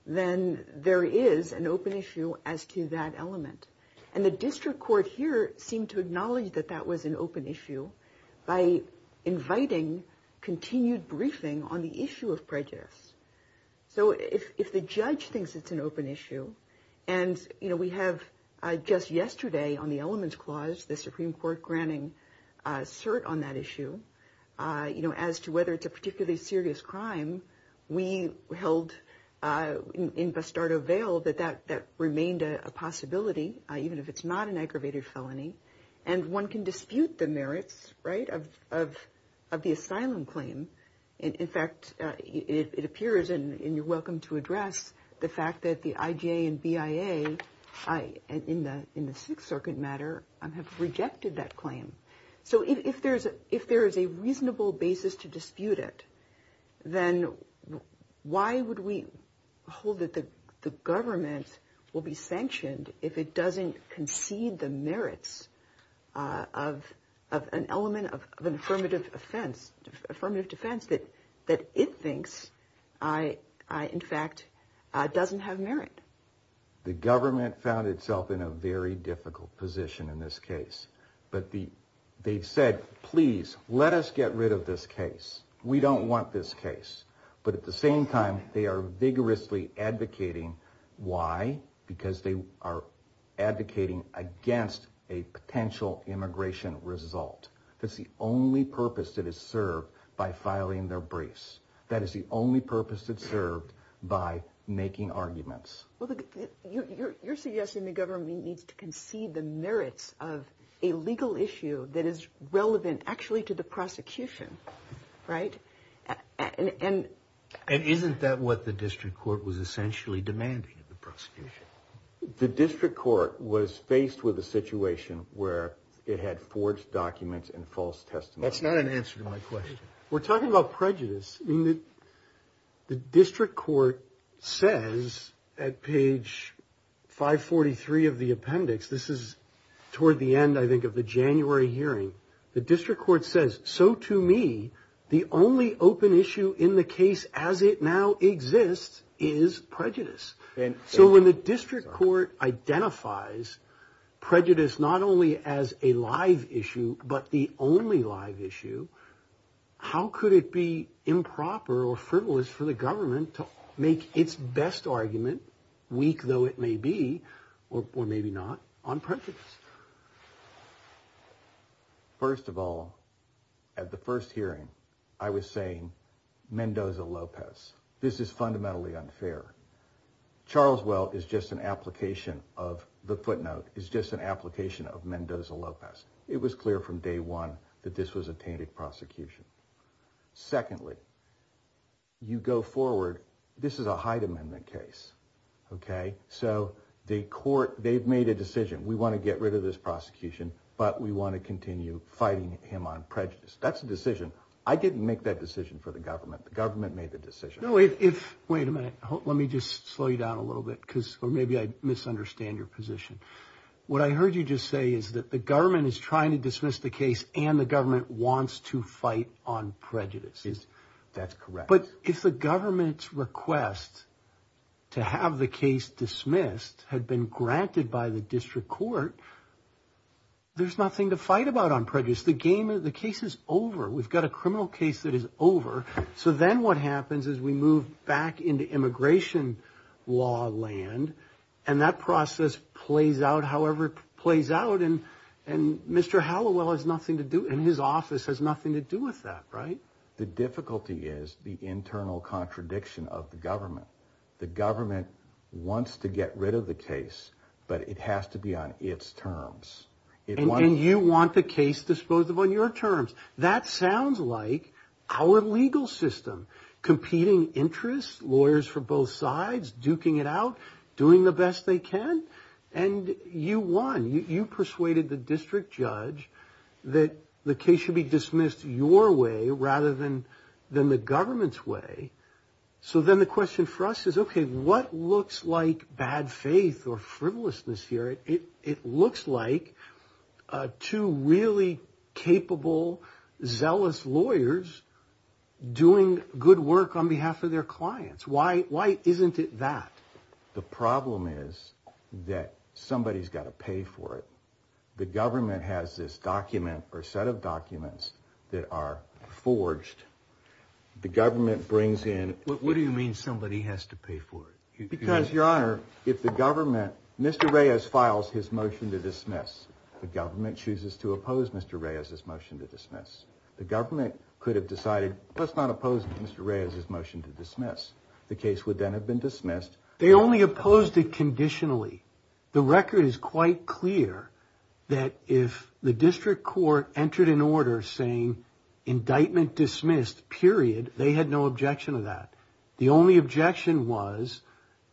then there is an open issue as to that element. And the district court here seemed to acknowledge that that was an open issue by inviting continued briefing on the issue of prejudice. So if the judge thinks it's an open issue, and we have just yesterday on the elements clause, the Supreme Court granting cert on that issue as to whether it's a particularly serious crime, we held in bastardo veil that that remained a possibility, even if it's not an aggravated felony. And one can dispute the merits of the asylum claim. In fact, it appears, and you're welcome to address the fact that the IGA and BIA, in the Sixth Circuit matter, have rejected that claim. So if there is a reasonable basis to dispute it, then why would we hold that the government will be sanctioned if it doesn't concede the merits of an element of affirmative defense that it thinks, in fact, doesn't have merit? The government found itself in a very difficult position in this case. But they said, please, let us get rid of this case. We don't want this case. But at the same time, they are vigorously advocating. Why? Because they are advocating against a potential immigration result. That's the only purpose that is served by filing their briefs. That is the only purpose that's served by making arguments. Well, you're suggesting the government needs to concede the merits of a legal issue that is relevant, actually, to the prosecution, right? And isn't that what the district court was essentially demanding of the prosecution? The district court was faced with a situation where it had forged documents and false testimony. That's not an answer to my question. We're talking about prejudice. The district court says at page 543 of the appendix, this is toward the end, I think, of the January hearing, the district court says, so to me, the only open issue in the case as it now exists is prejudice. So when the district court identifies prejudice not only as a live issue but the only live issue, how could it be improper or frivolous for the government to make its best argument, weak though it may be, or maybe not, on prejudice? First of all, at the first hearing, I was saying Mendoza-Lopez. This is fundamentally unfair. Charles Weld is just an application of the footnote. It's just an application of Mendoza-Lopez. It was clear from day one that this was a tainted prosecution. Secondly, you go forward. This is a Hyde Amendment case, okay? So the court, they've made a decision. We want to get rid of this prosecution, but we want to continue fighting him on prejudice. That's a decision. I didn't make that decision for the government. The government made the decision. Wait a minute. Let me just slow you down a little bit, or maybe I misunderstand your position. What I heard you just say is that the government is trying to dismiss the case and the government wants to fight on prejudice. That's correct. But if the government's request to have the case dismissed had been granted by the district court, there's nothing to fight about on prejudice. The case is over. We've got a criminal case that is over. So then what happens is we move back into immigration law land, and that process plays out however it plays out, and Mr. Halliwell and his office has nothing to do with that, right? The difficulty is the internal contradiction of the government. The government wants to get rid of the case, but it has to be on its terms. And you want the case disposed of on your terms. That sounds like our legal system, competing interests, lawyers from both sides, duking it out, doing the best they can, and you won. You persuaded the district judge that the case should be dismissed your way rather than the government's way. So then the question for us is, okay, what looks like bad faith or frivolousness here? It looks like two really capable, zealous lawyers doing good work on behalf of their clients. Why isn't it that? The problem is that somebody's got to pay for it. The government has this document or set of documents that are forged. The government brings in... What do you mean somebody has to pay for it? Because, Your Honor, if the government... Mr. Reyes files his motion to dismiss. The government chooses to oppose Mr. Reyes's motion to dismiss. The government could have decided, let's not oppose Mr. Reyes's motion to dismiss. The case would then have been dismissed. They only opposed it conditionally. The record is quite clear that if the district court entered an order saying, indictment dismissed, period, they had no objection to that. The only objection was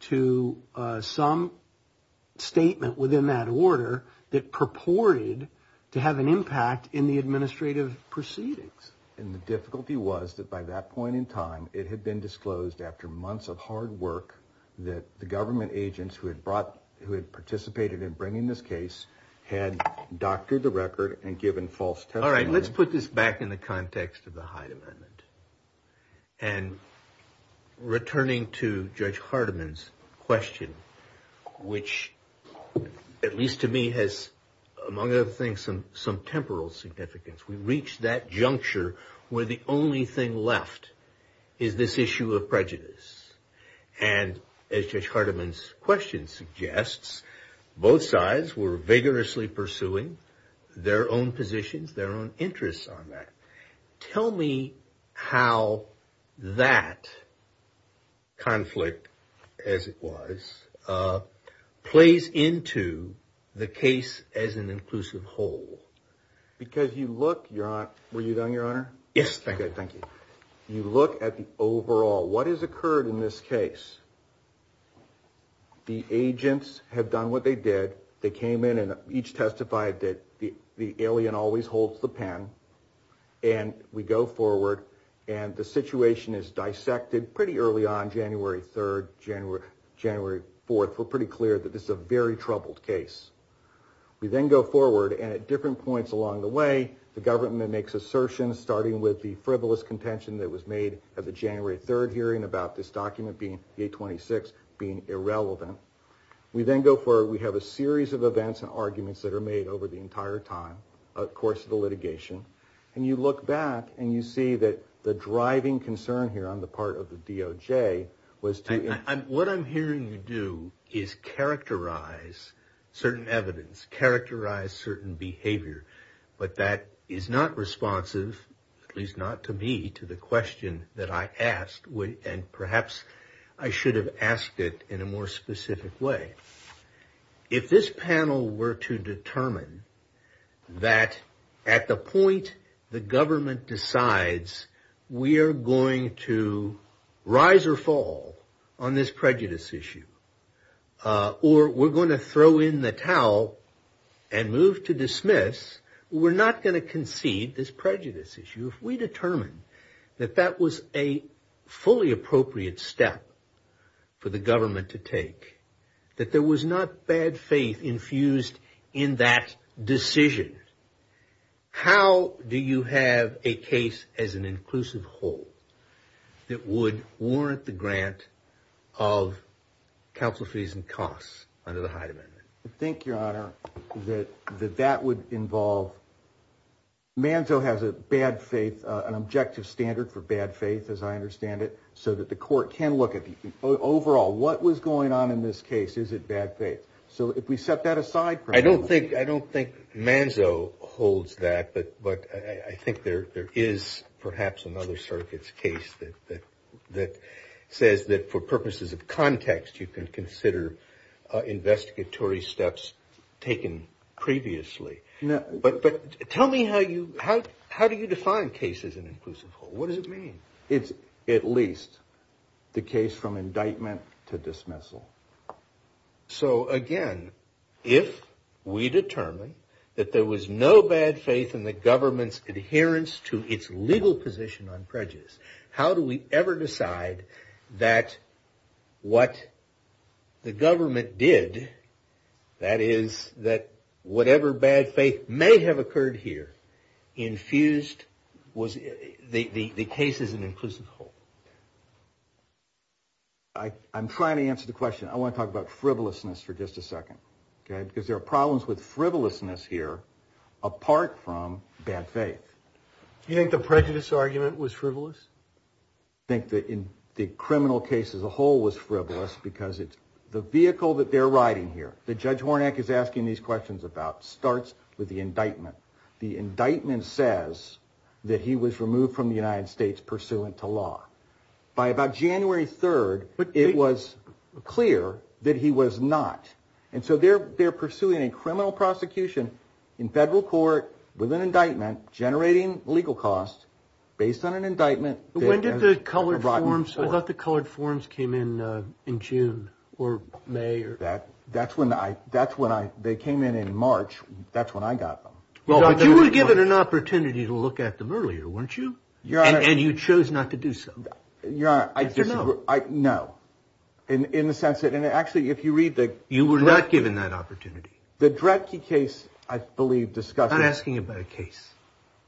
to some statement within that order that purported to have an impact in the administrative proceedings. And the difficulty was that by that point in time, it had been disclosed after months of hard work that the government agents who had participated in bringing this case had doctored the record and given false testimony. All right, let's put this back in the context of the Hyde Amendment. And returning to Judge Hardiman's question, which at least to me has, among other things, some temporal significance. We reached that juncture where the only thing left is this issue of prejudice. And as Judge Hardiman's question suggests, both sides were vigorously pursuing their own positions, their own interests on that. Tell me how that conflict, as it was, plays into the case as an inclusive whole. Because you look, Your Honor, were you done, Your Honor? Yes. Okay, thank you. You look at the overall, what has occurred in this case? The agents had done what they did. They came in and each testified that the alien always holds the pen. And we go forward, and the situation is dissected pretty early on, January 3rd, January 4th. We're pretty clear that this is a very troubled case. We then go forward, and at different points along the way, the government makes assertions, starting with the frivolous contention that was made at the January 3rd hearing about this document, being 826, being irrelevant. We then go forward. We have a series of events and arguments that are made over the entire time, course of the litigation. And you look back, and you see that the driving concern here on the part of the DOJ was to— to provide certain evidence, characterize certain behavior. But that is not responsive, at least not to me, to the question that I asked. And perhaps I should have asked it in a more specific way. If this panel were to determine that at the point the government decides we are going to rise or fall on this prejudice issue, or we're going to throw in the towel and move to dismiss, we're not going to concede this prejudice issue. If we determine that that was a fully appropriate step for the government to take, that there was not bad faith infused in that decision, how do you have a case as an inclusive whole that would warrant the grant of counsel fees and costs under the Hyde Amendment? I think, Your Honor, that that would involve—Manzo has a bad faith, an objective standard for bad faith, as I understand it, so that the court can look at the overall what was going on in this case. Is it bad faith? So if we set that aside— I don't think—I don't think Manzo holds that, but I think there is perhaps another circuit's case that says that for purposes of context, you can consider investigatory steps taken previously. But tell me how you—how do you define a case as an inclusive whole? What does it mean? It's at least the case from indictment to dismissal. So, again, if we determine that there was no bad faith in the government's adherence to its legal position on prejudice, how do we ever decide that what the government did, that is, that whatever bad faith may have occurred here, infused the case as an inclusive whole? I'm trying to answer the question. I want to talk about frivolousness for just a second, okay, because there are problems with frivolousness here apart from bad faith. Do you think the prejudice argument was frivolous? I think that in the criminal case as a whole was frivolous because it's the vehicle that they're riding here, that Judge Warnak is asking these questions about, starts with the indictment. The indictment says that he was removed from the United States pursuant to law. By about January 3rd, it was clear that he was not. And so they're pursuing a criminal prosecution in federal court with an indictment generating legal costs based on an indictment. When did the colored forms—I thought the colored forms came in in June or May. That's when I—they came in in March. That's when I got them. Well, you were given an opportunity to look at them earlier, weren't you? And you chose not to do so. You're right. I—no. In the sense that—and actually, if you read the— You were not given that opportunity. The Dredtke case, I believe, discussed— I'm not asking about a case.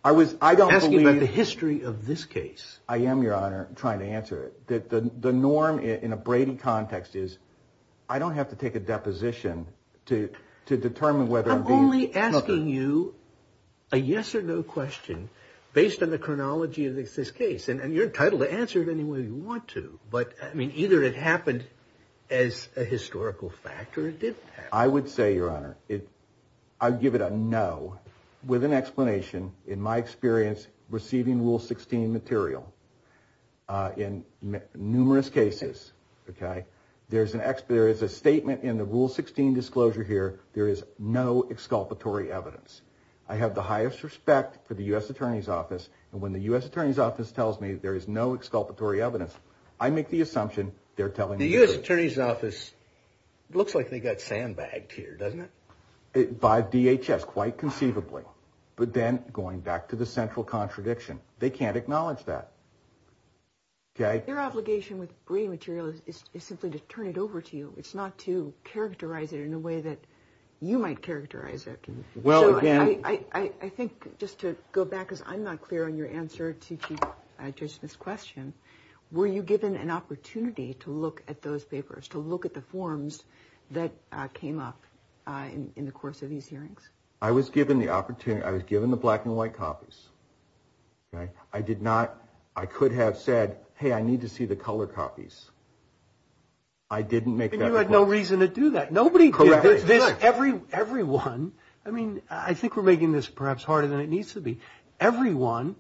I was—I don't believe— I'm asking you the history of this case. I am, Your Honor, trying to answer it. The norm in a Brady context is I don't have to take a deposition to determine whether I'm being covered. I'm only asking you a yes or no question based on the chronology of this case. And you're entitled to answer it any way you want to. But, I mean, either it happened as a historical fact or it didn't happen. I would say, Your Honor, I would give it a no with an explanation. In my experience, receiving Rule 16 material in numerous cases, okay, there is a statement in the Rule 16 disclosure here. There is no exculpatory evidence. I have the highest respect for the U.S. Attorney's Office. And when the U.S. Attorney's Office tells me there is no exculpatory evidence, I make the assumption they're telling the truth. The U.S. Attorney's Office looks like they got fan-bagged here, doesn't it? By DHS, quite conceivably. But then, going back to the central contradiction, they can't acknowledge that. Okay? Your obligation with Brady material is simply to turn it over to you. It's not to characterize it in a way that you might characterize it. I think, just to go back, because I'm not clear on your answer to Judge Smith's question, were you given an opportunity to look at those papers, to look at the forms that came up in the course of these hearings? I was given the opportunity. I was given the black and white copies. I did not. I could have said, hey, I need to see the colored copies. I didn't make that request. And you had no reason to do that. Nobody did. Everyone, I mean, I think we're making this perhaps harder than it needs to be. Everyone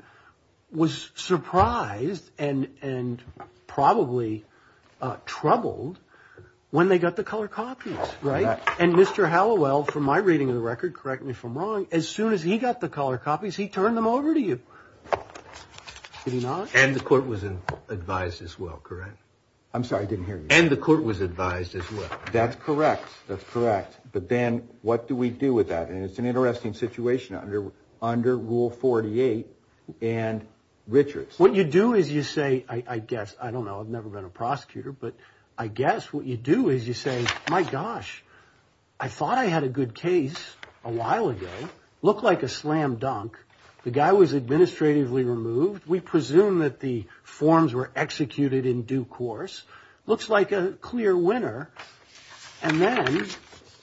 was surprised and probably troubled when they got the colored copies, right? And Mr. Hallowell, from my reading of the record, correct me if I'm wrong, as soon as he got the colored copies, he turned them over to you. Did he not? And the court was advised as well, correct? I'm sorry, I didn't hear you. And the court was advised as well. That's correct. That's correct. But then what do we do with that? And it's an interesting situation under Rule 48 and Richards. What you do is you say, I guess, I don't know. I've never been a prosecutor. But I guess what you do is you say, my gosh, I thought I had a good case a while ago. Looked like a slam dunk. The guy was administratively removed. We presume that the forms were executed in due course. Looks like a clear winner. And then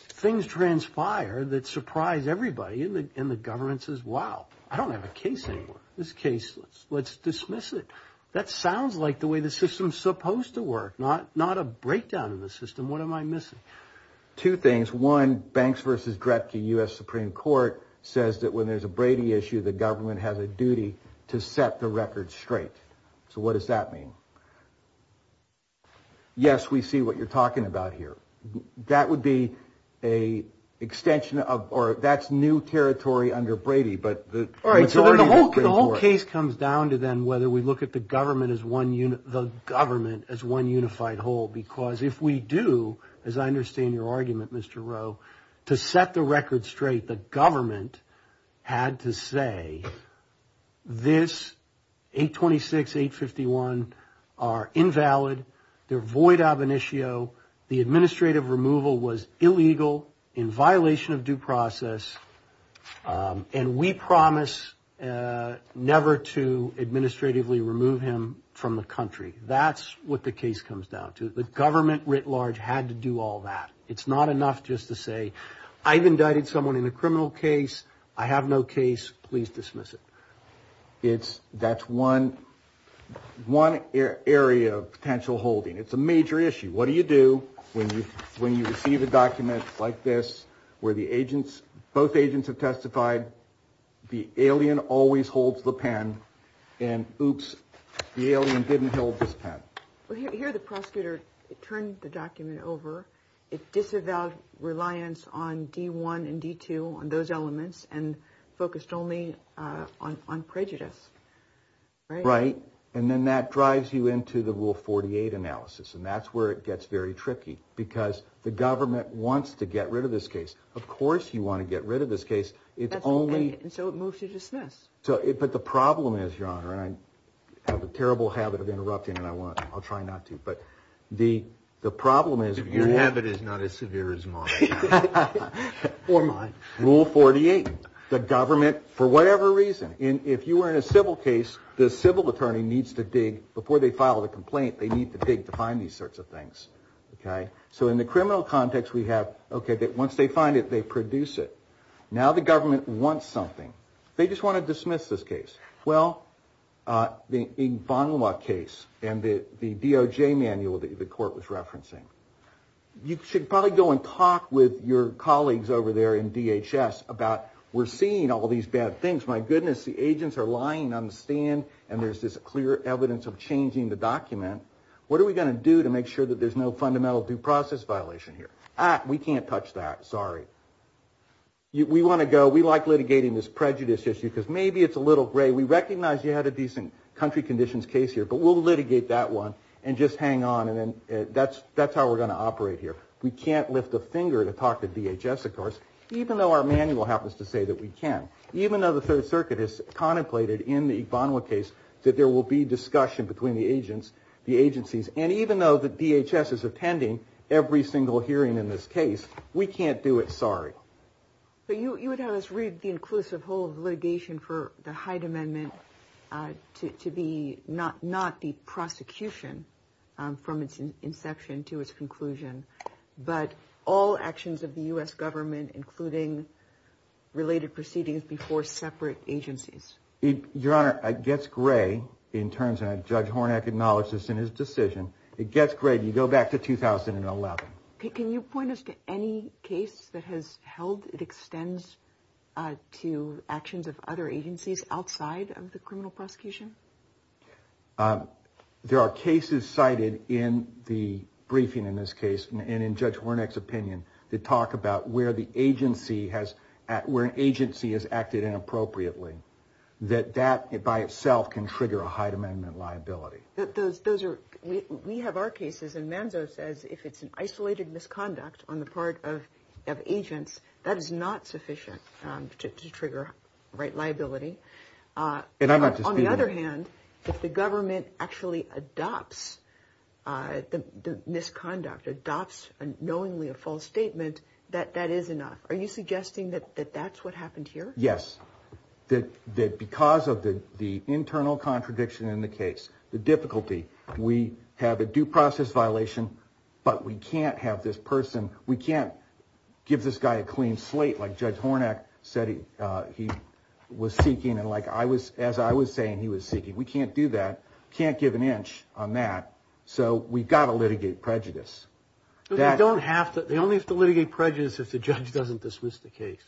things transpired that surprised everybody in the governments as well. I don't have a case anymore. This case, let's dismiss it. That sounds like the way the system's supposed to work, not a breakdown of the system. What am I missing? Two things. Case one, Banks v. Gretke, U.S. Supreme Court, says that when there's a Brady issue, the government has a duty to set the record straight. So what does that mean? Yes, we see what you're talking about here. That would be an extension of or that's new territory under Brady. The whole case comes down to then whether we look at the government as one unified whole. Because if we do, as I understand your argument, Mr. Rowe, to set the record straight, the government had to say this 826, 851 are invalid. They're void ab initio. The administrative removal was illegal in violation of due process. And we promise never to administratively remove him from the country. That's what the case comes down to. The government writ large had to do all that. It's not enough just to say I've indicted someone in a criminal case. I have no case. Please dismiss it. That's one area of potential holding. It's a major issue. What do you do when you receive a document like this where both agents have testified, the alien always holds the pen, and oops, the alien didn't hold this pen? Here the prosecutor turned the document over. It disavowed reliance on D1 and D2, on those elements, and focused only on prejudice. Right. And then that drives you into the Rule 48 analysis. And that's where it gets very tricky because the government wants to get rid of this case. Of course you want to get rid of this case. And so it moves to dismiss. But the problem is, Your Honor, and I have a terrible habit of interrupting, and I'll try not to, but the problem is Your habit is not as severe as mine. Or mine. Rule 48, the government, for whatever reason, if you were in a civil case, the civil attorney needs to dig, before they file a complaint, they need to dig to find these sorts of things. So in the criminal context we have, okay, once they find it, they produce it. Now the government wants something. They just want to dismiss this case. Well, the Van La case and the DOJ manual that the court was referencing, you should probably go and talk with your colleagues over there in DHS about, we're seeing all these bad things, my goodness, the agents are lying on the stand, and there's this clear evidence of changing the document. What are we going to do to make sure that there's no fundamental due process violation here? Ah, we can't touch that, sorry. We want to go, we like litigating this prejudice issue because maybe it's a little gray. We recognize you had a decent country conditions case here, but we'll litigate that one and just hang on, and that's how we're going to operate here. We can't lift a finger to talk to DHS, of course, even though our manual happens to say that we can. Even though the Third Circuit has contemplated in the Van La case that there will be discussion between the agencies, and even though the DHS is attending every single hearing in this case, we can't do it, sorry. But you would have us read the inclusive whole of litigation for the Hyde Amendment to be, not the prosecution from its inception to its conclusion, but all actions of the U.S. government including related proceedings before separate agencies. Your Honor, it gets gray in terms of Judge Hornak acknowledges in his decision. It gets gray, you go back to 2011. Can you point us to any case that has held, it extends to actions of other agencies outside of the criminal prosecution? There are cases cited in the briefing in this case, and in Judge Hornak's opinion, to talk about where an agency has acted inappropriately, that that by itself can trigger a Hyde Amendment liability. We have our cases, and Manzo says if it's an isolated misconduct on the part of agents, that is not sufficient to trigger liability. But on the other hand, if the government actually adopts the misconduct, adopts knowingly a false statement, that that is enough. Are you suggesting that that's what happened here? Yes, that because of the internal contradiction in the case, the difficulty, we have a due process violation, but we can't have this person, we can't give this guy a clean slate, like Judge Hornak said he was seeking, and as I was saying, he was seeking. We can't do that, can't give an inch on that. So we've got to litigate prejudice. They only have to litigate prejudice if the judge doesn't dismiss the case.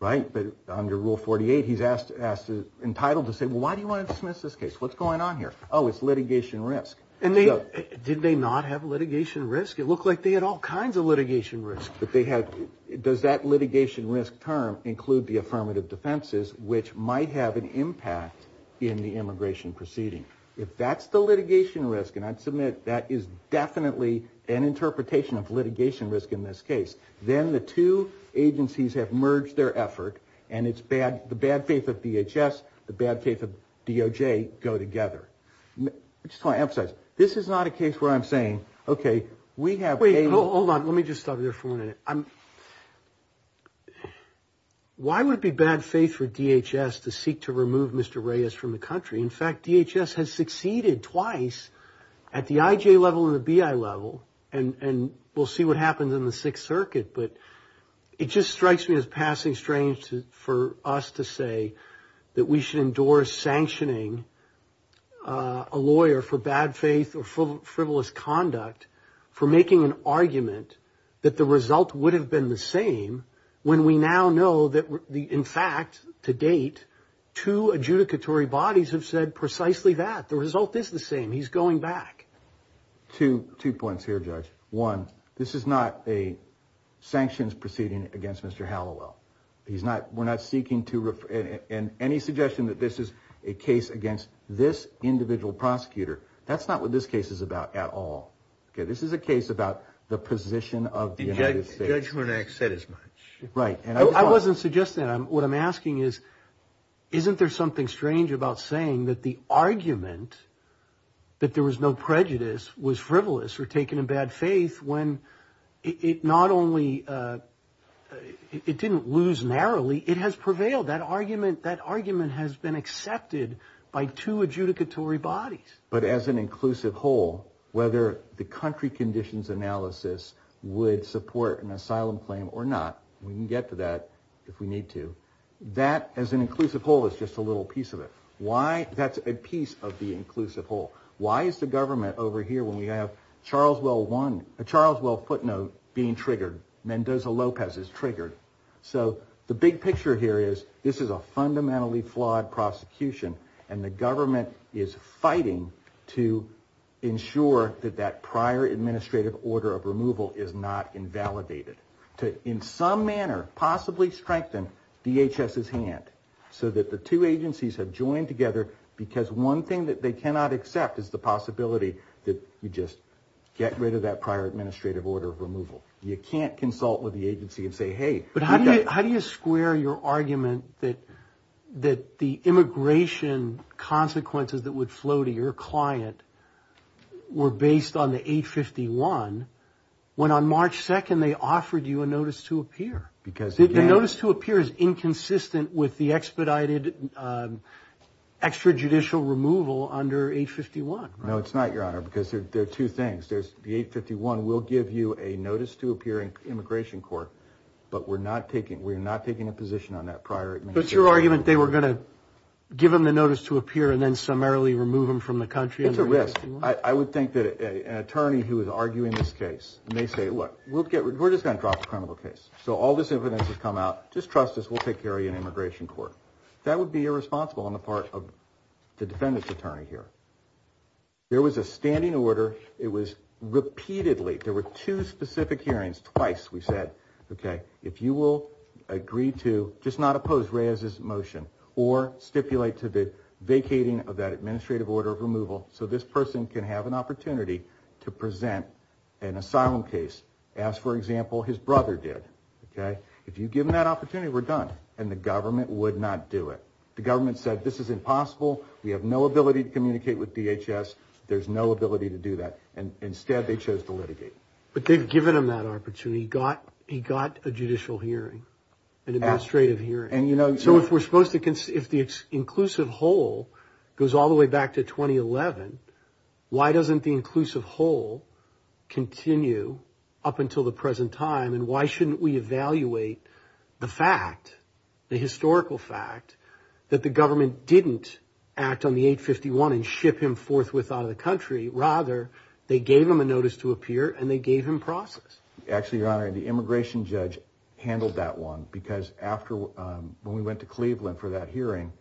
Right, but under Rule 48, he's entitled to say, well, why do you want to dismiss this case? What's going on here? Oh, it's litigation risk. Did they not have litigation risk? It looked like they had all kinds of litigation risk. Does that litigation risk term include the affirmative defenses, which might have an impact in the immigration proceeding? If that's the litigation risk, and I submit that is definitely an interpretation of litigation risk in this case, then the two agencies have merged their effort, and it's the bad faith of DHS, the bad faith of DOJ go together. I just want to emphasize, this is not a case where I'm saying, okay, we have cases. Hold on, let me just stop you there for a minute. Why would it be bad faith for DHS to seek to remove Mr. Reyes from the country? In fact, DHS has succeeded twice at the IJ level and the BI level, and we'll see what happens in the Sixth Circuit, but it just strikes me as passing strange for us to say that we should endorse sanctioning a lawyer for bad faith or frivolous conduct for making an argument that the result would have been the same when we now know that, in fact, to date, two adjudicatory bodies have said precisely that. The result is the same. He's going back. Two points here, Judge. One, this is not a sanctions proceeding against Mr. Hallowell. We're not seeking to – and any suggestion that this is a case against this individual prosecutor, that's not what this case is about at all. This is a case about the position of the United States. The Judgment Act said as much. Right. I wasn't suggesting that. What I'm asking is, isn't there something strange about saying that the argument that there was no prejudice was frivolous or taken in bad faith when it not only – it didn't lose narrowly, it has prevailed. That argument has been accepted by two adjudicatory bodies. But as an inclusive whole, whether the country conditions analysis would support an asylum claim or not, we can get to that if we need to. That, as an inclusive whole, is just a little piece of it. Why? That's a piece of the inclusive whole. Why is the government over here when we have a Charles Well footnote being triggered, Mendoza-Lopez is triggered? So the big picture here is this is a fundamentally flawed prosecution, and the government is fighting to ensure that that prior administrative order of removal is not invalidated, to in some manner possibly strengthen DHS's hand so that the two agencies have joined together because one thing that they cannot accept is the possibility that you just get rid of that prior administrative order of removal. You can't consult with the agency and say, hey – But how do you square your argument that the immigration consequences that would flow to your client were based on the H-51 when on March 2nd they offered you a notice to appear? Because – The notice to appear is inconsistent with the expedited extrajudicial removal under H-51. No, it's not, Your Honor, because there are two things. The H-51 will give you a notice to appear in immigration court, but we're not taking a position on that prior administrative order. But your argument, they were going to give them the notice to appear and then summarily remove them from the country? It's a risk. I would think that an attorney who is arguing this case may say, look, we're just going to drop the criminal case. So all this infidelity has come out, just trust us, we'll take care of you in immigration court. That would be irresponsible on the part of the defendant's attorney here. There was a standing order. It was repeatedly – there were two specific hearings, twice we said, okay, if you will agree to just not oppose Reyes's motion or stipulate to the vacating of that administrative order of removal so this person can have an opportunity to present an asylum case, as, for example, his brother did, okay? If you give him that opportunity, we're done. And the government would not do it. The government said this is impossible. We have no ability to communicate with DHS. There's no ability to do that. Instead, they chose to litigate. But they've given him that opportunity. He got a judicial hearing, an administrative hearing. So if we're supposed to – if the inclusive whole goes all the way back to 2011, why doesn't the inclusive whole continue up until the present time and why shouldn't we evaluate the fact, the historical fact, that the government didn't act on the 851 and ship him forthwith out of the country? Rather, they gave him a notice to appear and they gave him process. Actually, Your Honor, the immigration judge handled that one because after – when we went to Cleveland for that hearing,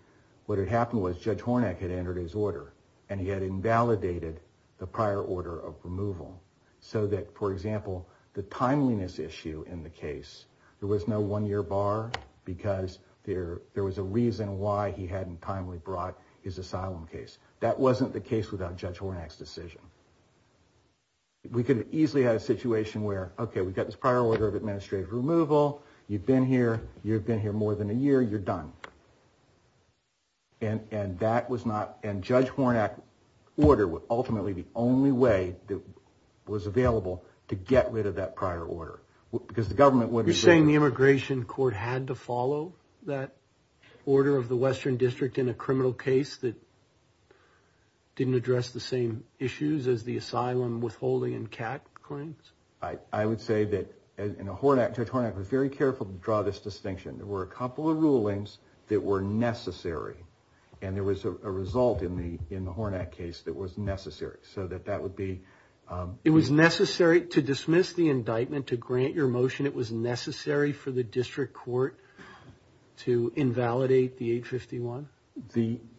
what had happened was Judge Hornak had entered his order and he had invalidated the prior order of removal so that, for example, the timeliness issue in the case, there was no one-year bar because there was a reason why he hadn't timely brought his asylum case. That wasn't the case without Judge Hornak's decision. We could easily have a situation where, okay, we've got this prior order of administrative removal. You've been here more than a year. You're done. And that was not – and Judge Hornak's order was ultimately the only way that was available to get rid of that prior order because the government wasn't – You're saying the immigration court had to follow that order of the Western District in a criminal case that didn't address the same issues as the asylum withholding and CAT claims? I would say that – and Judge Hornak was very careful to draw this distinction. There were a couple of rulings that were necessary, and there was a result in the Hornak case that was necessary, so that that would be – It was necessary to dismiss the indictment, to grant your motion? It was necessary for the district court to invalidate the 851?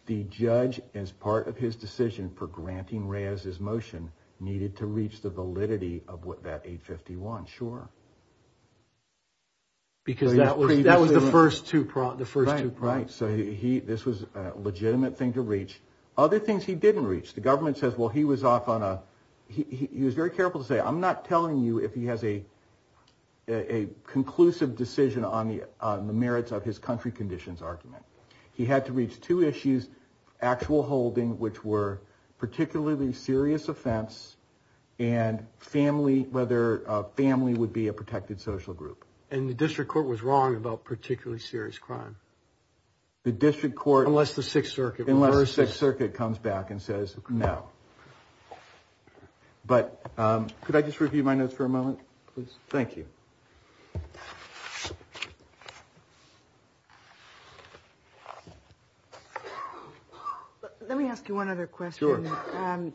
The judge, as part of his decision for granting Reyes's motion, needed to reach the validity of that 851, sure. Because that was the first two points. Right, so this was a legitimate thing to reach. Other things he didn't reach. The government says, well, he was off on a – he was very careful to say, I'm not telling you if he has a conclusive decision on the merits of his country conditions argument. He had to reach two issues, actual holding, which were particularly serious offense, and family, whether a family would be a protected social group. And the district court was wrong about particularly serious crime? The district court – Unless the Sixth Circuit was. Unless the Sixth Circuit comes back and says no. But could I just review my notes for a moment, please? Thank you. Let me ask you one other question. Sure.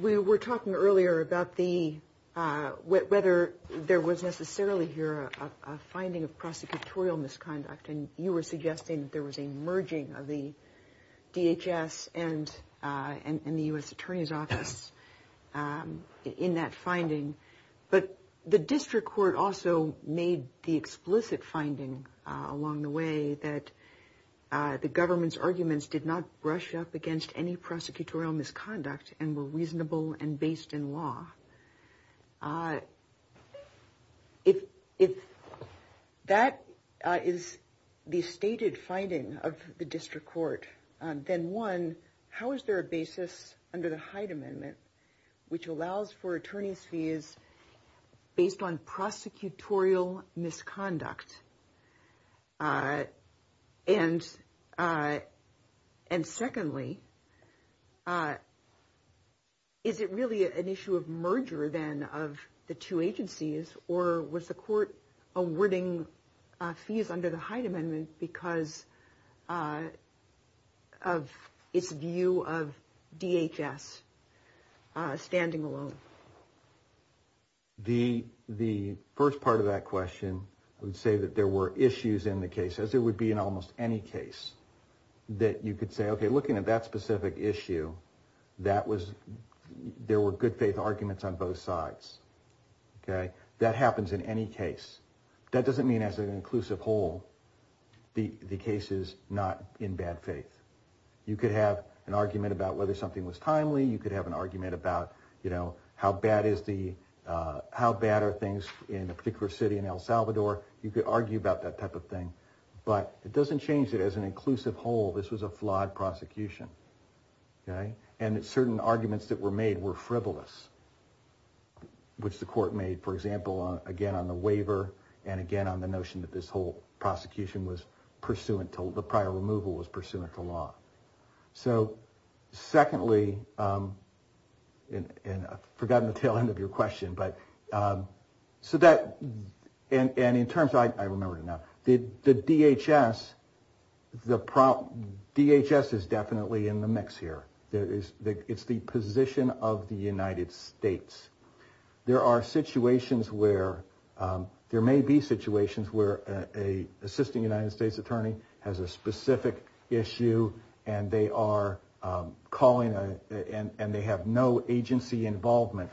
We were talking earlier about the – whether there was necessarily here a finding of prosecutorial misconduct, and you were suggesting that there was a merging of the DHS and the U.S. Attorney's Office in that finding. But the district court also made the explicit finding along the way that the government's arguments did not brush up against any prosecutorial misconduct and were reasonable and based in law. If that is the stated finding of the district court, then, one, how is there a basis under the Hyde Amendment, which allows for attorney's fees based on prosecutorial misconduct? And secondly, is it really an issue of merger, then, of the two agencies, or was the court awarding fees under the Hyde Amendment because of its view of DHS standing alone? The first part of that question would say that there were issues in the case, as there would be in almost any case, that you could say, okay, looking at that specific issue, there were good faith arguments on both sides. That happens in any case. That doesn't mean as an inclusive whole the case is not in bad faith. You could have an argument about whether something was timely. You could have an argument about how bad are things in a particular city in El Salvador. You could argue about that type of thing. But it doesn't change it as an inclusive whole. This was a flawed prosecution. And certain arguments that were made were frivolous, which the court made, for example, again on the waiver and again on the notion that this whole prosecution, the prior removal, was pursuant to law. So secondly, and I've forgotten the tail end of your question, but so that – and in terms – I remember now. The DHS, the DHS is definitely in the mix here. It's the position of the United States. There are situations where – there may be situations where an assisting United States attorney has a specific issue and they are calling and they have no agency involvement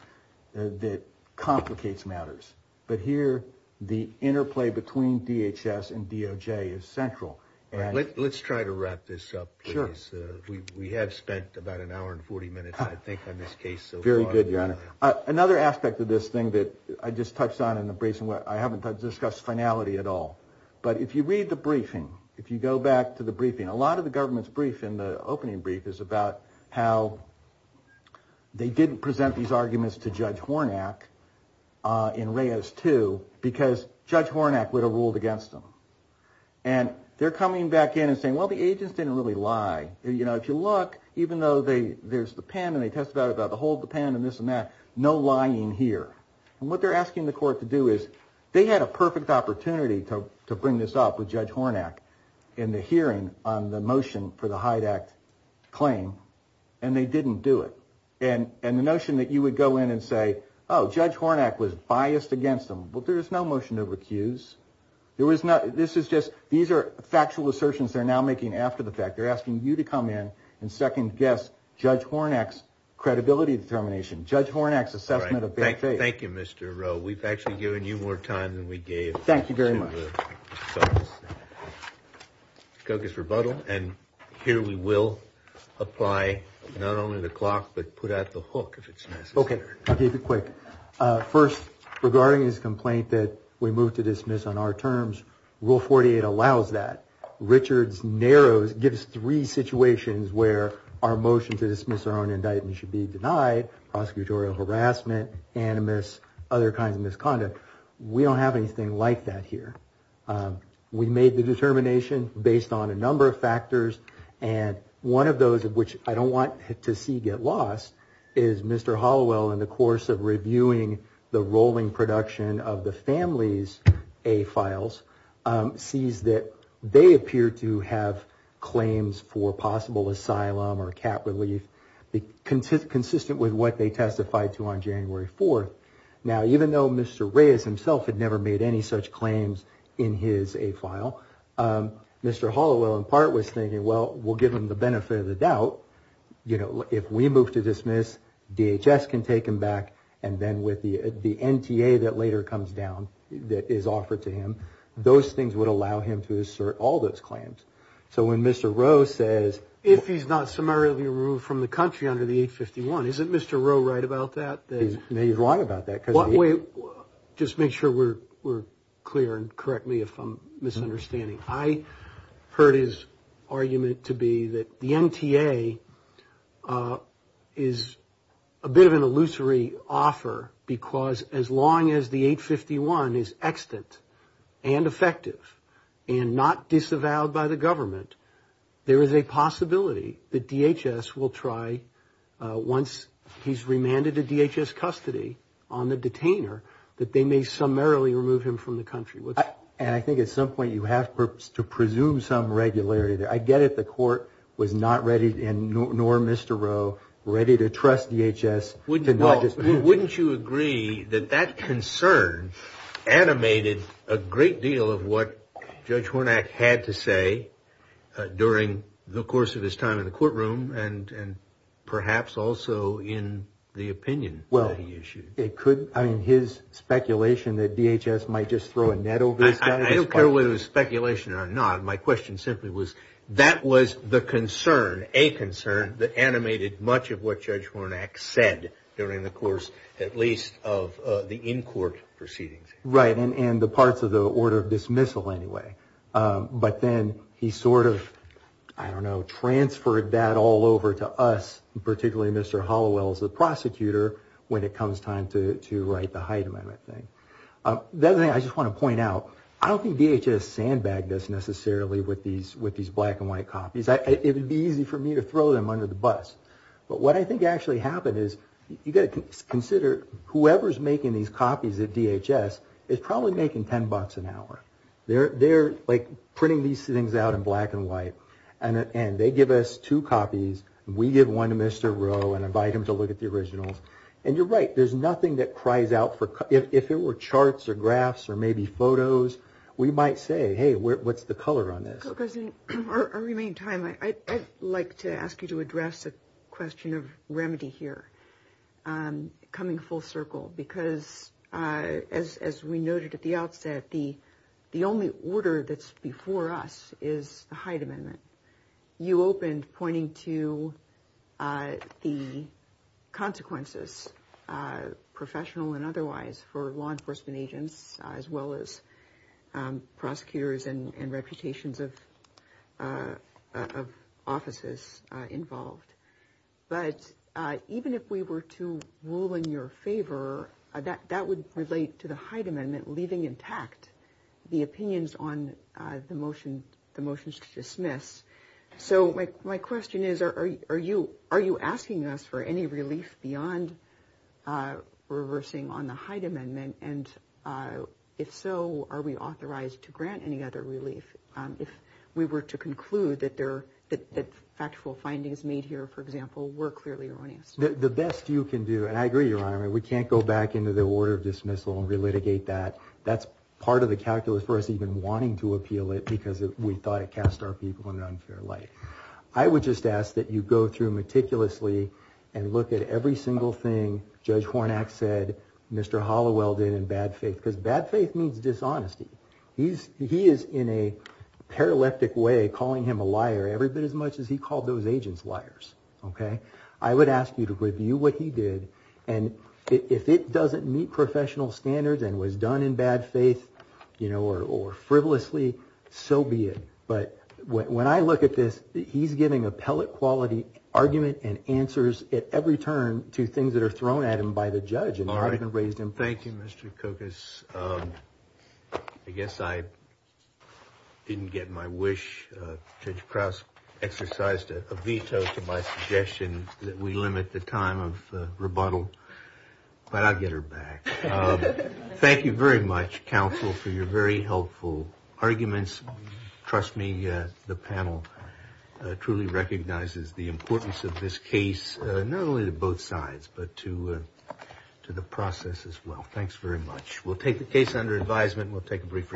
that complicates matters. But here the interplay between DHS and DOJ is central. Let's try to wrap this up, please. Sure. We have spent about an hour and 40 minutes, I think, on this case. Very good, Your Honor. Another aspect of this thing that I just touched on in the briefing – I haven't discussed finality at all. But if you read the briefing, if you go back to the briefing, a lot of the government's brief in the opening brief is about how they didn't present these arguments to Judge Hornak in Reyes II because Judge Hornak would have ruled against them. And they're coming back in and saying, well, the agents didn't really lie. If you look, even though there's the pen and they talk about the whole pen and this and that, no lying here. And what they're asking the court to do is – they had a perfect opportunity to bring this up with Judge Hornak in the hearing on the motion for the Hyde Act claim, and they didn't do it. And the notion that you would go in and say, oh, Judge Hornak was biased against them. Well, there was no motion to recuse. This is just – these are factual assertions they're now making after the fact. They're asking you to come in and second-guess Judge Hornak's credibility determination, Judge Hornak's assessment of their faith. All right. Thank you, Mr. Rowe. We've actually given you more time than we gave. Thank you very much. Douglas Rebuttal, and here we will apply not only the clock but put out the hook if it's necessary. Okay. I'll keep it quick. First, regarding this complaint that we move to dismiss on our terms, Rule 48 allows that. Richards narrows – gives three situations where our motion to dismiss our own indictment should be denied, prosecutorial harassment, animus, other kinds of misconduct. We don't have anything like that here. We made the determination based on a number of factors, and one of those of which I don't want to see get lost is Mr. Hollowell, in the course of reviewing the rolling production of the families' A files, sees that they appear to have claims for possible asylum or cap relief consistent with what they testified to on January 4th. Now, even though Mr. Reyes himself had never made any such claims in his A file, Mr. Hollowell in part was thinking, well, we'll give him the benefit of the doubt. You know, if we move to dismiss, DHS can take him back, and then with the NTA that later comes down that is offered to him, those things would allow him to assert all those claims. So when Mr. Rowe says – If he's not summarily removed from the country under the 851, isn't Mr. Rowe right about that? He's right about that. Just make sure we're clear and correct me if I'm misunderstanding. I heard his argument to be that the NTA is a bit of an illusory offer, because as long as the 851 is extant and effective and not disavowed by the government, there is a possibility that DHS will try, once he's remanded to DHS custody on the detainer, that they may summarily remove him from the country. And I think at some point you have to presume some regularity there. I get it the court was not ready, nor Mr. Rowe, ready to trust DHS. Wouldn't you agree that that concern animated a great deal of what Judge Hornak had to say during the course of his time in the courtroom and perhaps also in the opinion that he issued? His speculation that DHS might just throw a net over his head? I don't care whether it's speculation or not. My question simply was, that was the concern, a concern, that animated much of what Judge Hornak said during the course, at least, of the in-court proceedings. Right, and the parts of the order of dismissal anyway. But then he sort of, I don't know, transferred that all over to us, particularly Mr. Hollowell, the prosecutor, when it comes time to write the height limit thing. The other thing I just want to point out, I don't think DHS sandbagged this necessarily with these black and white copies. It would be easy for me to throw them under the bus. But what I think actually happened is, you've got to consider, whoever's making these copies at DHS is probably making $10 an hour. They're like printing these things out in black and white. And they give us two copies. We give one to Mr. Rowe and invite him to look at the original. And you're right, there's nothing that cries out for, if it were charts or graphs or maybe photos, we might say, hey, what's the color on this? Because in our remaining time, I'd like to ask you to address the question of remedy here, coming full circle, because as we noted at the outset, the only order that's before us is the Hyde Amendment. You opened pointing to the consequences, professional and otherwise, for law enforcement agents, as well as prosecutors and reputations of offices involved. But even if we were to rule in your favor, that would relate to the Hyde Amendment leaving intact the opinions on the motions to dismiss. So my question is, are you asking us for any relief beyond reversing on the Hyde Amendment? And if so, are we authorized to grant any other relief if we were to conclude that factual findings made here, for example, were clearly erroneous? The best you can do, and I agree, Your Honor, we can't go back into the order of dismissal and relitigate that. That's part of the calculus for us even wanting to appeal it because we thought it cast our people in an unfair light. I would just ask that you go through meticulously and look at every single thing Judge Hornak said, Mr. Hollowell did in bad faith, because bad faith means dishonesty. He is, in a paralytic way, calling him a liar every bit as much as he called those agents liars. OK, I would ask you to review what he did. And if it doesn't meet professional standards and was done in bad faith, you know, or frivolously, so be it. But when I look at this, he's giving appellate quality argument and answers at every turn to things that are thrown at him by the judge. Thank you, Mr. Kokos. I guess I didn't get my wish. Judge Krauss exercised a veto to my suggestion that we limit the time of rebuttal, but I'll get her back. Thank you very much, counsel, for your very helpful arguments. Trust me, the panel truly recognizes the importance of this case, not only to both sides, but to to the process as well. Thanks very much. We'll take the case under advisement. We'll take a brief recess.